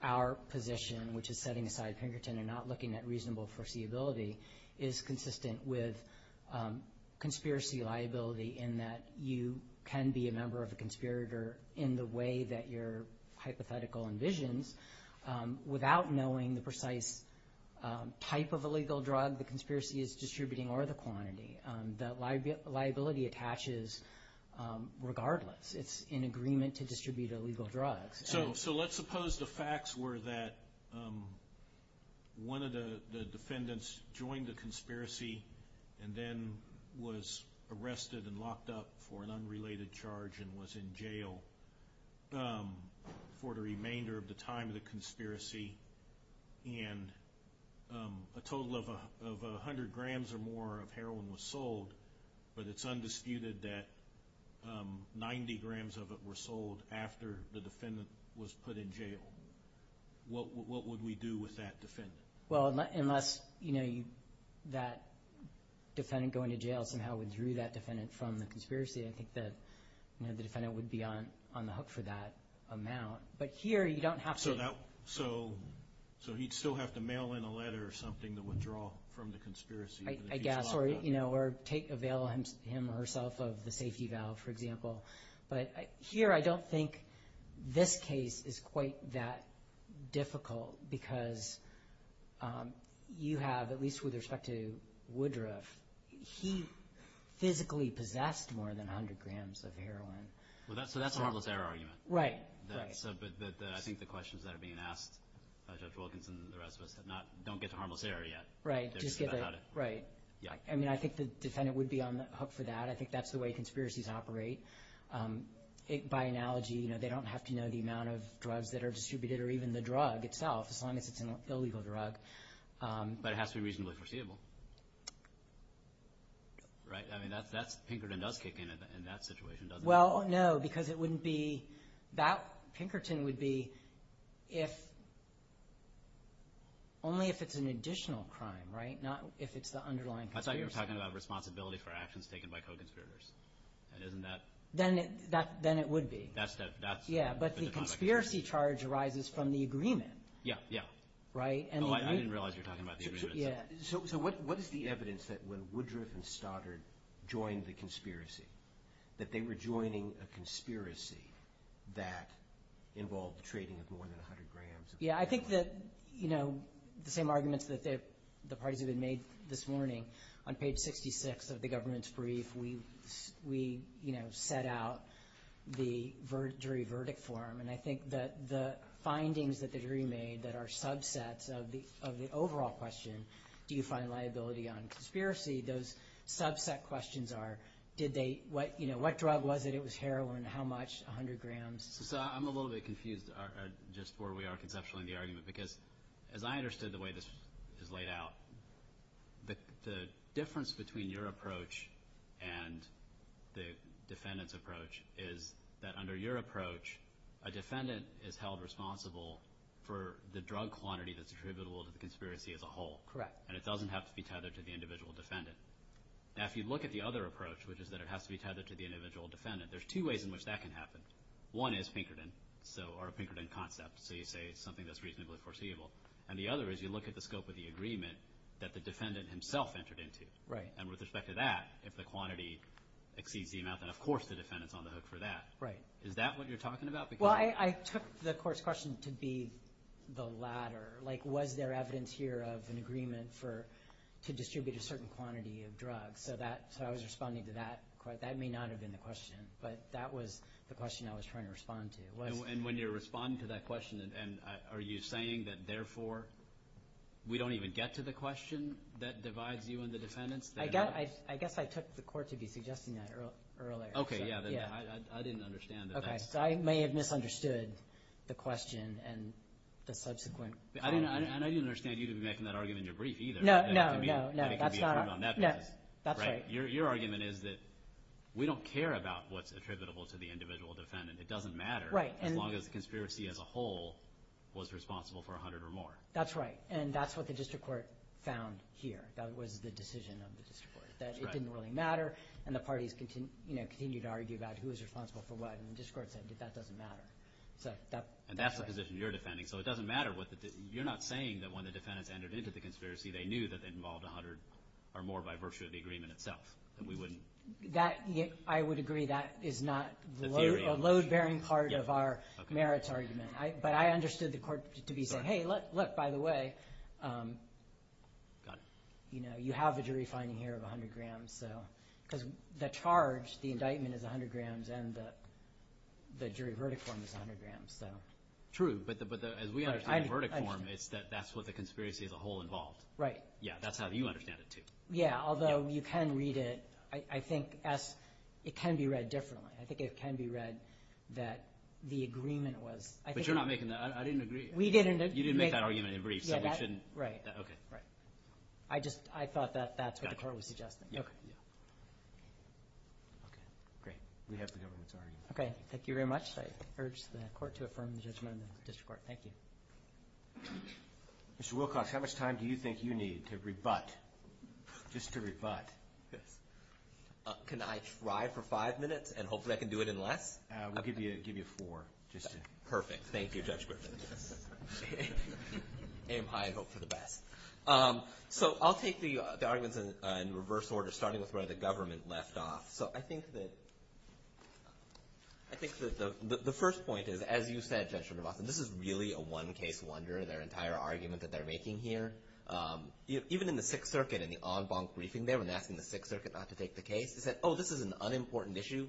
our position, which is setting aside Pinkerton and not looking at reasonable foreseeability, is consistent with conspiracy liability in that you can be a member of a conspirator in the way that your hypothetical envisions without knowing the precise type of illegal drug the conspiracy is distributing or the quantity. The liability attaches regardless. It's in agreement to distribute illegal drugs. So let's suppose the facts were that one of the defendants joined the conspiracy and then was arrested and locked up for an unrelated charge and was in jail for the remainder of the time of the conspiracy and a total of 100 grams or more of heroin was sold, but it's undisputed that 90 grams of it were sold after the defendant was put in jail. What would we do with that defendant? Well, unless that defendant going to jail somehow withdrew that defendant from the conspiracy, I think that the defendant would be on the hook for that amount. But here you don't have to. So he'd still have to mail in a letter or something to withdraw from the conspiracy. I guess, or, you know, or avail him or herself of the safety valve, for example. But here I don't think this case is quite that difficult because you have, at least with respect to Woodruff, he physically possessed more than 100 grams of heroin. So that's a harmless error argument. Right. I think the questions that are being asked by Judge Wilkins and the rest of us don't get to harmless error yet. Right. I mean, I think the defendant would be on the hook for that. I think that's the way conspiracies operate. By analogy, you know, they don't have to know the amount of drugs that are distributed or even the drug itself, as long as it's an illegal drug. But it has to be reasonably foreseeable. Right? Well, no, because it wouldn't be – that Pinkerton would be if – only if it's an additional crime, right? Not if it's the underlying conspiracy. I thought you were talking about responsibility for actions taken by co-conspirators. Isn't that – Then it would be. Yeah, but the conspiracy charge arises from the agreement. Yeah, yeah. Right? Oh, I didn't realize you were talking about the agreement. So what is the evidence that when Woodruff and Stoddard joined the conspiracy, that they were joining a conspiracy that involved the trading of more than 100 grams of heroin? Yeah, I think that, you know, the same arguments that the parties have made this morning, on page 66 of the government's brief, we, you know, set out the jury verdict form. And I think that the findings that the jury made that are subsets of the overall question, do you find liability on conspiracy, those subset questions are, did they – what, you know, what drug was it? It was heroin. How much? 100 grams? So I'm a little bit confused just where we are conceptually in the argument, because as I understood the way this is laid out, the difference between your approach and the defendant's approach is that under your approach, a defendant is held responsible for the drug quantity that's attributable to the conspiracy as a whole. Correct. And it doesn't have to be tethered to the individual defendant. Now, if you look at the other approach, which is that it has to be tethered to the individual defendant, there's two ways in which that can happen. One is Pinkerton, or a Pinkerton concept, so you say something that's reasonably foreseeable. And the other is you look at the scope of the agreement that the defendant himself entered into. Right. And with respect to that, if the quantity exceeds the amount, then of course the defendant's on the hook for that. Right. Is that what you're talking about? Well, I took the course question to be the latter. Like was there evidence here of an agreement to distribute a certain quantity of drugs? So I was responding to that. That may not have been the question, but that was the question I was trying to respond to. And when you're responding to that question, are you saying that therefore we don't even get to the question that divides you and the defendants? I guess I took the court to be suggesting that earlier. Okay, yeah. I didn't understand. Okay, so I may have misunderstood the question and the subsequent argument. And I didn't understand you to be making that argument in your brief either. No, no, no, no. And it could be approved on that basis. No, that's right. Your argument is that we don't care about what's attributable to the individual defendant. It doesn't matter as long as the conspiracy as a whole was responsible for 100 or more. That's right, and that's what the district court found here. That was the decision of the district court, that it didn't really matter, and the parties continued to argue about who was responsible for what, and the district court said that that doesn't matter. And that's the position you're defending, so it doesn't matter. You're not saying that when the defendants entered into the conspiracy, they knew that they involved 100 or more by virtue of the agreement itself, that we wouldn't? I would agree that is not a load-bearing part of our merits argument. But I understood the court to be saying, hey, look, by the way, you have a jury finding here of 100 grams, because the charge, the indictment is 100 grams, and the jury verdict form is 100 grams. True, but as we understand the verdict form, it's that that's what the conspiracy as a whole involved. Yeah, that's how you understand it too. Yeah, although you can read it. I think it can be read differently. I think it can be read that the agreement was – But you're not making that – I didn't agree. You didn't make that argument in brief, so we shouldn't – okay. Right. I just – I thought that that's what the court was suggesting. Okay, yeah. Okay, great. We have the government's argument. Okay, thank you very much. I urge the court to affirm the judgment in the district court. Thank you. Mr. Wilcox, how much time do you think you need to rebut, just to rebut this? Can I try for five minutes, and hopefully I can do it in less? We'll give you four, just to – Perfect. Thank you, Judge Griffith. Aim high and hope for the best. So I'll take the arguments in reverse order, starting with where the government left off. So I think that – I think that the first point is, as you said, Judge Griffith, and this is really a one-case wonder, their entire argument that they're making here. Even in the Sixth Circuit, in the en banc briefing there, when they're asking the Sixth Circuit not to take the case, they said, oh, this is an unimportant issue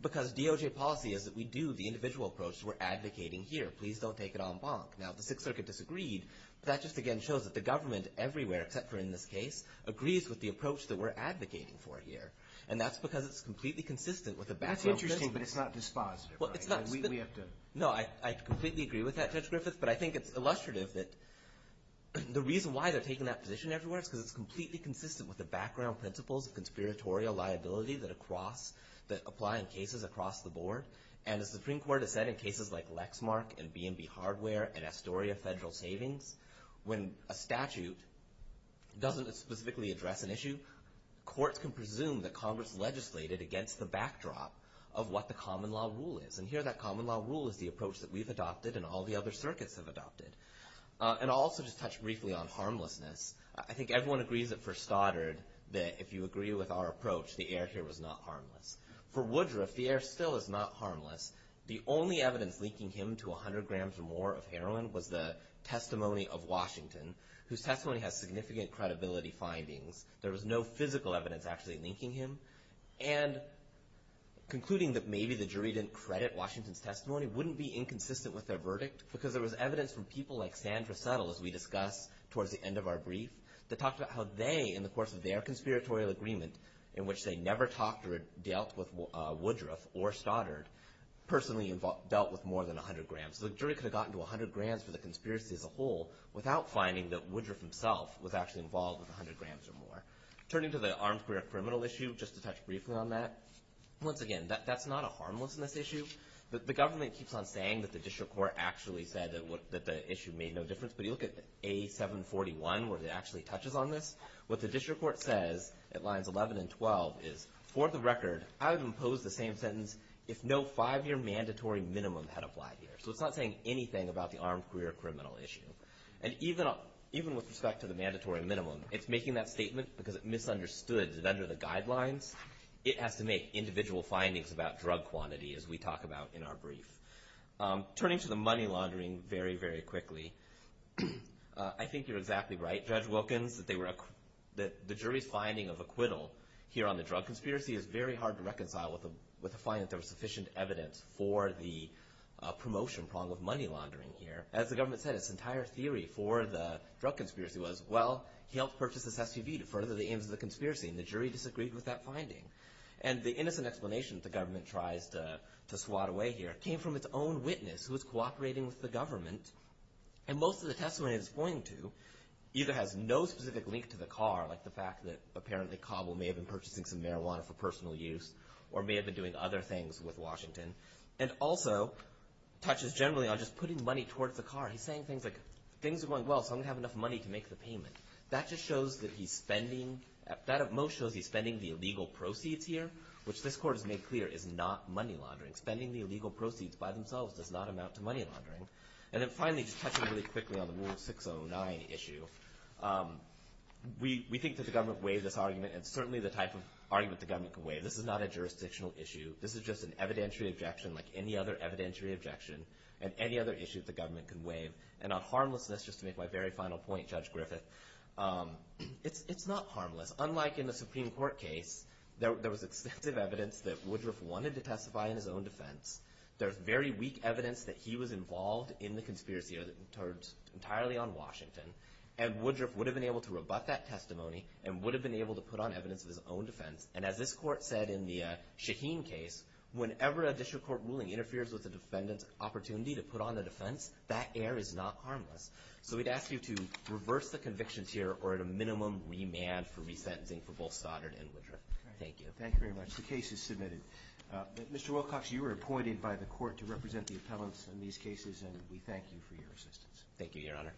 because DOJ policy is that we do the individual approach which we're advocating here. Please don't take it en banc. Now, the Sixth Circuit disagreed, but that just, again, shows that the government everywhere, except for in this case, agrees with the approach that we're advocating for here. And that's because it's completely consistent with the background principles. That's interesting, but it's not dispositive. Well, it's not – We have to – No, I completely agree with that, Judge Griffith, but I think it's illustrative that the reason why they're taking that position everywhere is because it's completely consistent with the background principles of conspiratorial liability that across – that apply in cases across the board. And as the Supreme Court has said in cases like Lexmark and B&B Hardware and Astoria Federal Savings, when a statute doesn't specifically address an issue, courts can presume that Congress legislated against the backdrop of what the common law rule is. And here that common law rule is the approach that we've adopted and all the other circuits have adopted. And I'll also just touch briefly on harmlessness. I think everyone agrees that for Stoddard, that if you agree with our approach, the air here was not harmless. For Woodruff, the air still is not harmless. The only evidence linking him to 100 grams or more of heroin was the testimony of Washington, whose testimony has significant credibility findings. There was no physical evidence actually linking him. And concluding that maybe the jury didn't credit Washington's testimony wouldn't be inconsistent with their verdict because there was evidence from people like Sandra Settle, as we discussed towards the end of our brief, that talked about how they, in the course of their conspiratorial agreement, in which they never talked or dealt with Woodruff or Stoddard, personally dealt with more than 100 grams. So the jury could have gotten to 100 grams for the conspiracy as a whole without finding that Woodruff himself was actually involved with 100 grams or more. Turning to the armed career criminal issue, just to touch briefly on that, once again, that's not a harmlessness issue. The government keeps on saying that the district court actually said that the issue made no difference. But you look at A741 where it actually touches on this. What the district court says at lines 11 and 12 is, for the record, I would impose the same sentence if no five-year mandatory minimum had applied here. So it's not saying anything about the armed career criminal issue. And even with respect to the mandatory minimum, it's making that statement because it misunderstood that under the guidelines, it has to make individual findings about drug quantity, as we talk about in our brief. Turning to the money laundering very, very quickly, I think you're exactly right, Judge Wilkins, that the jury's finding of acquittal here on the drug conspiracy is very hard to reconcile with the finding that there was sufficient evidence for the promotion prong of money laundering here. As the government said, its entire theory for the drug conspiracy was, well, he helped purchase this SUV to further the aims of the conspiracy, and the jury disagreed with that finding. And the innocent explanation that the government tries to swat away here came from its own witness who was cooperating with the government. And most of the testimony it's pointing to either has no specific link to the car, like the fact that apparently Cobble may have been purchasing some marijuana for personal use or may have been doing other things with Washington, and also touches generally on just putting money towards the car. He's saying things like, things are going well, so I'm going to have enough money to make the payment. That just shows that he's spending, that at most shows he's spending the illegal proceeds here, which this court has made clear is not money laundering. Spending the illegal proceeds by themselves does not amount to money laundering. And then finally, just touching really quickly on the Rule 609 issue, we think that the government waived this argument, and certainly the type of argument the government can waive. This is not a jurisdictional issue. This is just an evidentiary objection like any other evidentiary objection, and any other issue that the government can waive. And on harmlessness, just to make my very final point, Judge Griffith, it's not harmless. Unlike in the Supreme Court case, there was extensive evidence that Woodruff wanted to testify in his own defense. There's very weak evidence that he was involved in the conspiracy entirely on Washington, and Woodruff would have been able to rebut that testimony and would have been able to put on evidence of his own defense. And as this court said in the Shaheen case, whenever a district court ruling interferes with a defendant's opportunity to put on a defense, that error is not harmless. So we'd ask you to reverse the convictions here or at a minimum remand for resentencing for both Soddard and Woodruff. Thank you. Thank you very much. The case is submitted. Mr. Wilcox, you were appointed by the court to represent the appellants in these cases, and we thank you for your assistance. Thank you, Your Honor.